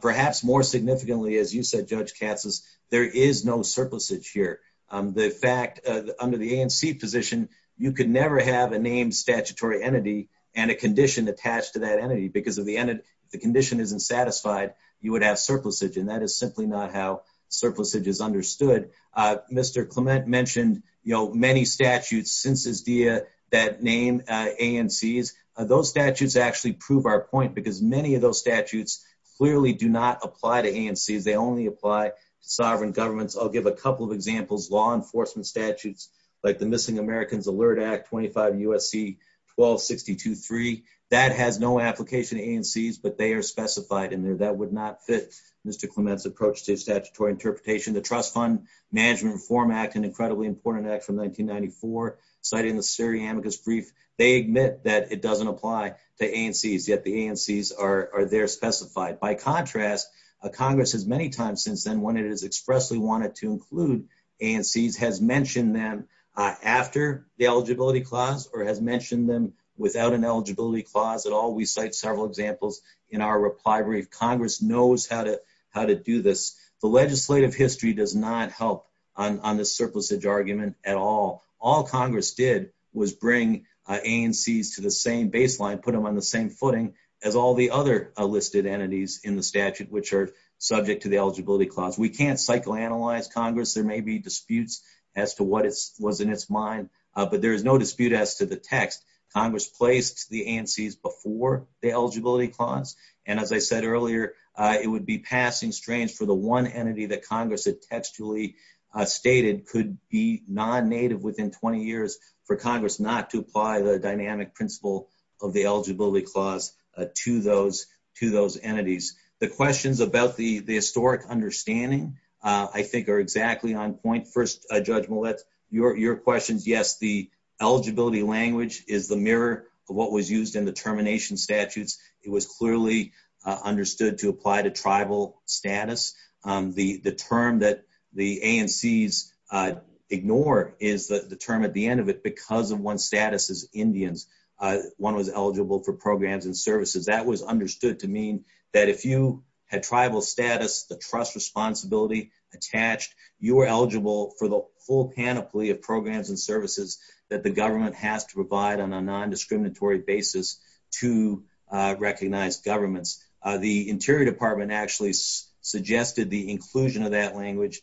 Perhaps more significantly, as you said, Judge Katz, there is no surplusage here. The fact under the AMC position, you could never have a named statutory entity and a condition attached to that entity because if the condition isn't satisfied, you would have surplusage. And that is simply not how surplusage is understood. Mr. Clement mentioned, you know, many statutes since this year that name AMCs, those statutes actually prove our point because many of those statutes clearly do not apply to AMCs. They only apply to sovereign governments. I'll give a couple of examples, law enforcement statutes like the Missing Americans Alert Act 25 U.S.C. 1262.3. That has no application to AMCs, but they are specified in there. That would not fit Mr. Clement's approach to statutory interpretation. The Trust Fund Management Reform Act, an incredibly important act from 1994, citing the Surrey Amicus Brief, they admit that it doesn't apply to AMCs, yet the AMCs are there specified. By contrast, Congress has many times since then when it has expressly wanted to include AMCs, has mentioned them after the eligibility clause or has mentioned them without an eligibility clause at all. We cite several examples in our reply brief. Congress knows how to, how to do this. The legislative history does not help on this surplusage argument at all. All Congress did was bring AMCs to the same baseline, put them on the same footing as all the other listed entities in the statute, which are subject to the eligibility clause. We can't psychoanalyze Congress. There may be disputes as to what it was in its mind, but there is no dispute as to the text. Congress placed the AMCs before the eligibility clause. And as I said earlier, it would be passing strange for the one entity that Congress had textually stated could be non-native within 20 years for Congress not to apply the dynamic principle of the eligibility clause to those, to those entities. The questions about the historic understanding I think are exactly on point. First, Judge Millett, your questions, yes, the eligibility language is the mirror of what was used in the termination statutes. It was clearly understood to apply to tribal status. The term that the AMCs ignore is the term at the end of it because of one status as Indians, one was eligible for programs and services. That was understood to mean that if you had tribal status, the trust responsibility attached, you were eligible for the whole panoply of programs and services that the tribe had to recognize governments. The interior department actually suggested the inclusion of that language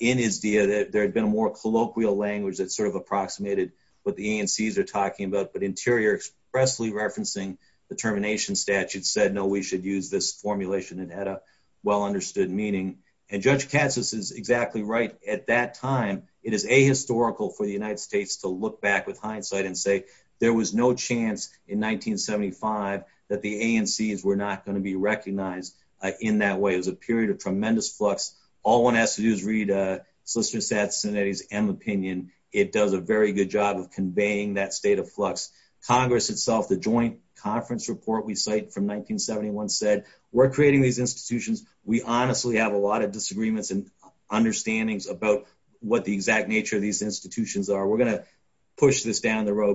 in his deal that there had been a more colloquial language that sort of approximated what the AMCs are talking about, but interior expressly referencing the termination statute said, no, we should use this formulation and had a well-understood meaning. And Judge Katsas is exactly right. At that time, it is a historical for the United States to look back with hindsight and say there was no chance in 1975 that the AMCs were not going to be recognized in that way. It was a period of tremendous flux. All one has to do is read a Solicitor General's opinion. It does a very good job of conveying that state of flux. Congress itself, the joint conference report we cite from 1971 said, we're creating these institutions. We honestly have a lot of disagreements and understandings about what the exact meaning is, but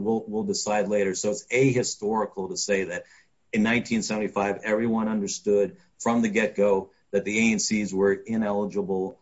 we'll, we'll decide later. So it's a historical to say that in 1975, everyone understood from the get-go that the AMCs were ineligible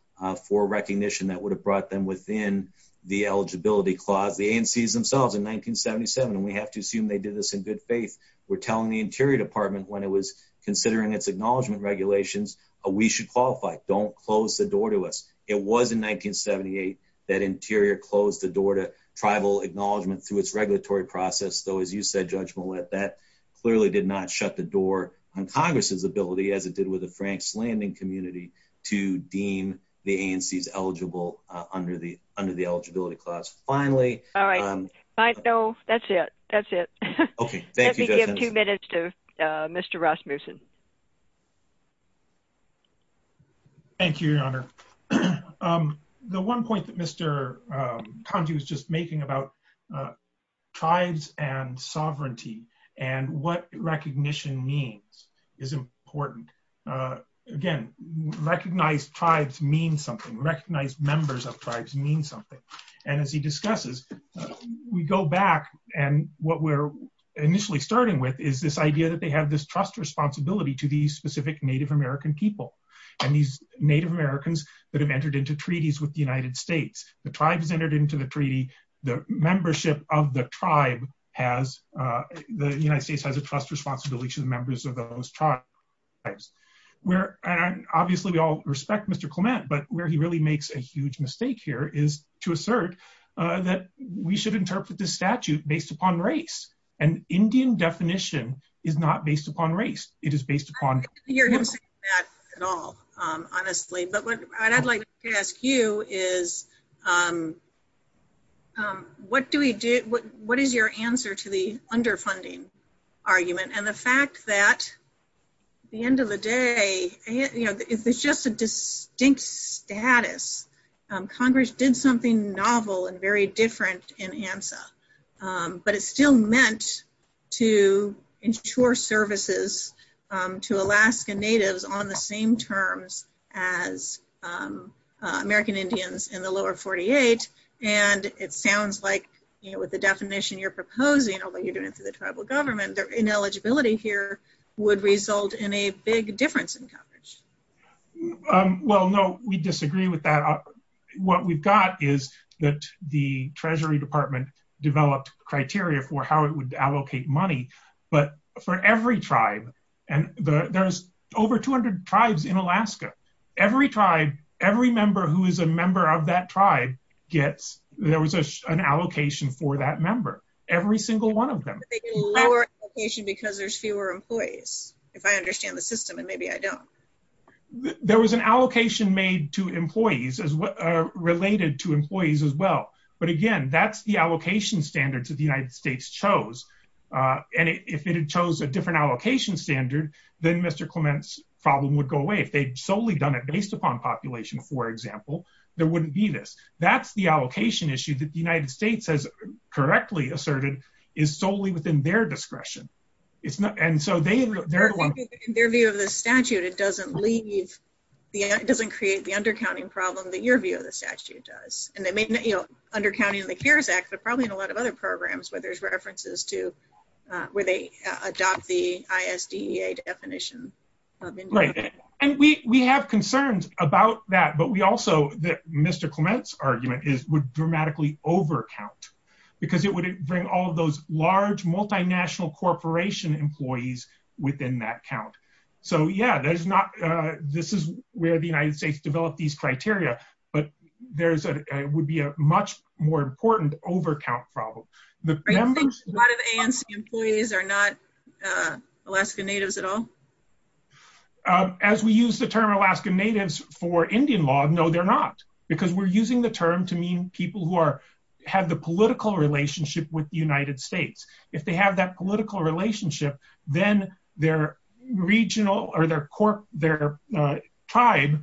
for recognition that would have brought them within the eligibility clause. The AMCs themselves in 1977, and we have to assume they did this in good faith were telling the interior department when it was considering its acknowledgement regulations, we should qualify. Don't close the door to us. It was in 1978 that interior closed the door to tribal acknowledgement to its regulatory process. Though, as you said, Judge Millett, that clearly did not shut the door on Congress's ability as it did with the Frank's Landing community to deem the AMCs eligible under the, under the eligibility clause. Finally. No, that's it. That's it. Okay. Let me give two minutes to Mr. Rasmussen. Thank you, Your Honor. The one point that Mr. Kondew was just making about tribes and sovereignty and what recognition means is important. Again, recognize tribes mean something recognized members of tribes mean something. And as he discusses, we go back and what we're initially starting with is this idea that they have this trust responsibility to these specific native American people and these Native Americans that have entered into treaties with the United States. The tribes entered into the treaty. The membership of the tribe has, the United States has a trust responsibility to the members of those tribes. And obviously we all respect Mr. Clement, but where he really makes a huge mistake here is to assert that we should interpret the statute based upon race and Indian definition is not based upon race. It is based upon. It is based upon race. And I don't think you're hearing that at all, honestly, but what I'd like to ask you is what do we do? What is your answer to the underfunding argument? And the fact that the end of the day, you know, it's just a distinct status. Congress did something novel and very different in ANSA, but it's still meant to ensure services to Alaska natives on the same terms as American Indians in the lower 48. And it sounds like, you know, with the definition you're proposing, what you're doing to the tribal government, their ineligibility here would result in a big difference in coverage. Well, no, we disagree with that. What we've got is that the treasury department developed criteria for how it would allocate money, but for every tribe, and there's over 200 tribes in Alaska, every tribe, every member who is a member of that tribe gets, there was an allocation for that member. Every single one of them. Lower allocation because there's fewer employees. If I understand the system and maybe I don't. There was an allocation made to employees as related to employees as well. But again, that's the allocation standards that the United States chose. And if it had chose a different allocation standard, then Mr. Clement's problem would go away. If they'd solely done it based upon population, for example, there wouldn't be this. That's the allocation issue that the United States has correctly asserted is solely within their discretion. It's not. And so they, in their view of the statute, it doesn't leave, it doesn't create the undercounting problem that your view of the statute does. And they may not, you know, undercounting the CARES Act, but probably in a lot of other programs where there's references to where they adopt the ISDEA definition. Right. And we have concerns about that, but we also, Mr. Clement's argument is would dramatically over count because it would bring all of those large multinational corporation employees within that count. So, yeah, there's not, this is where the United States developed these criteria, but there's a, it would be a much more important overcount problem. A lot of ANSI employees are not Alaska Natives at all? As we use the term Alaska Natives for Indian law, no, they're not because we're using the term to mean people who are, have the political relationship with the United States. If they have that political relationship, then their regional or their tribe,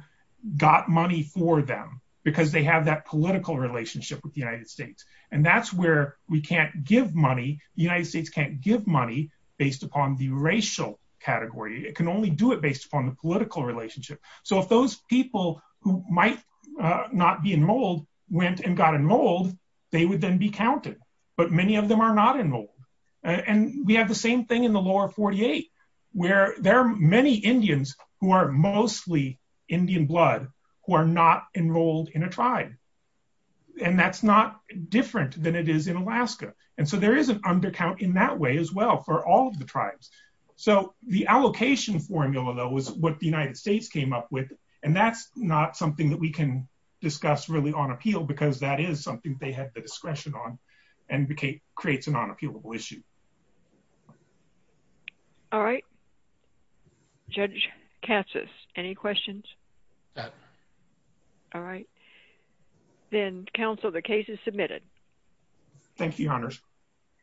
got money for them because they have that political relationship with the United States. And that's where we can't give money. The United States can't give money based upon the racial category. It can only do it based upon the political relationship. So if those people who might not be in mold went and got in mold, they would then be counted, but many of them are not enrolled. And we have the same thing in the lower 48 where there are many Indians who are mostly Indian blood who are not enrolled in a tribe. And that's not different than it is in Alaska. And so there is an undercount in that way as well for all of the tribes. So the allocation formula though, is what the United States came up with and that's not something that we can discuss really on appeal because that is something they had the discretion on and creates an unappealable issue. All right. Judge Katsas, any questions? None. All right. Then counsel, the case is submitted. Thank you, Your Honors.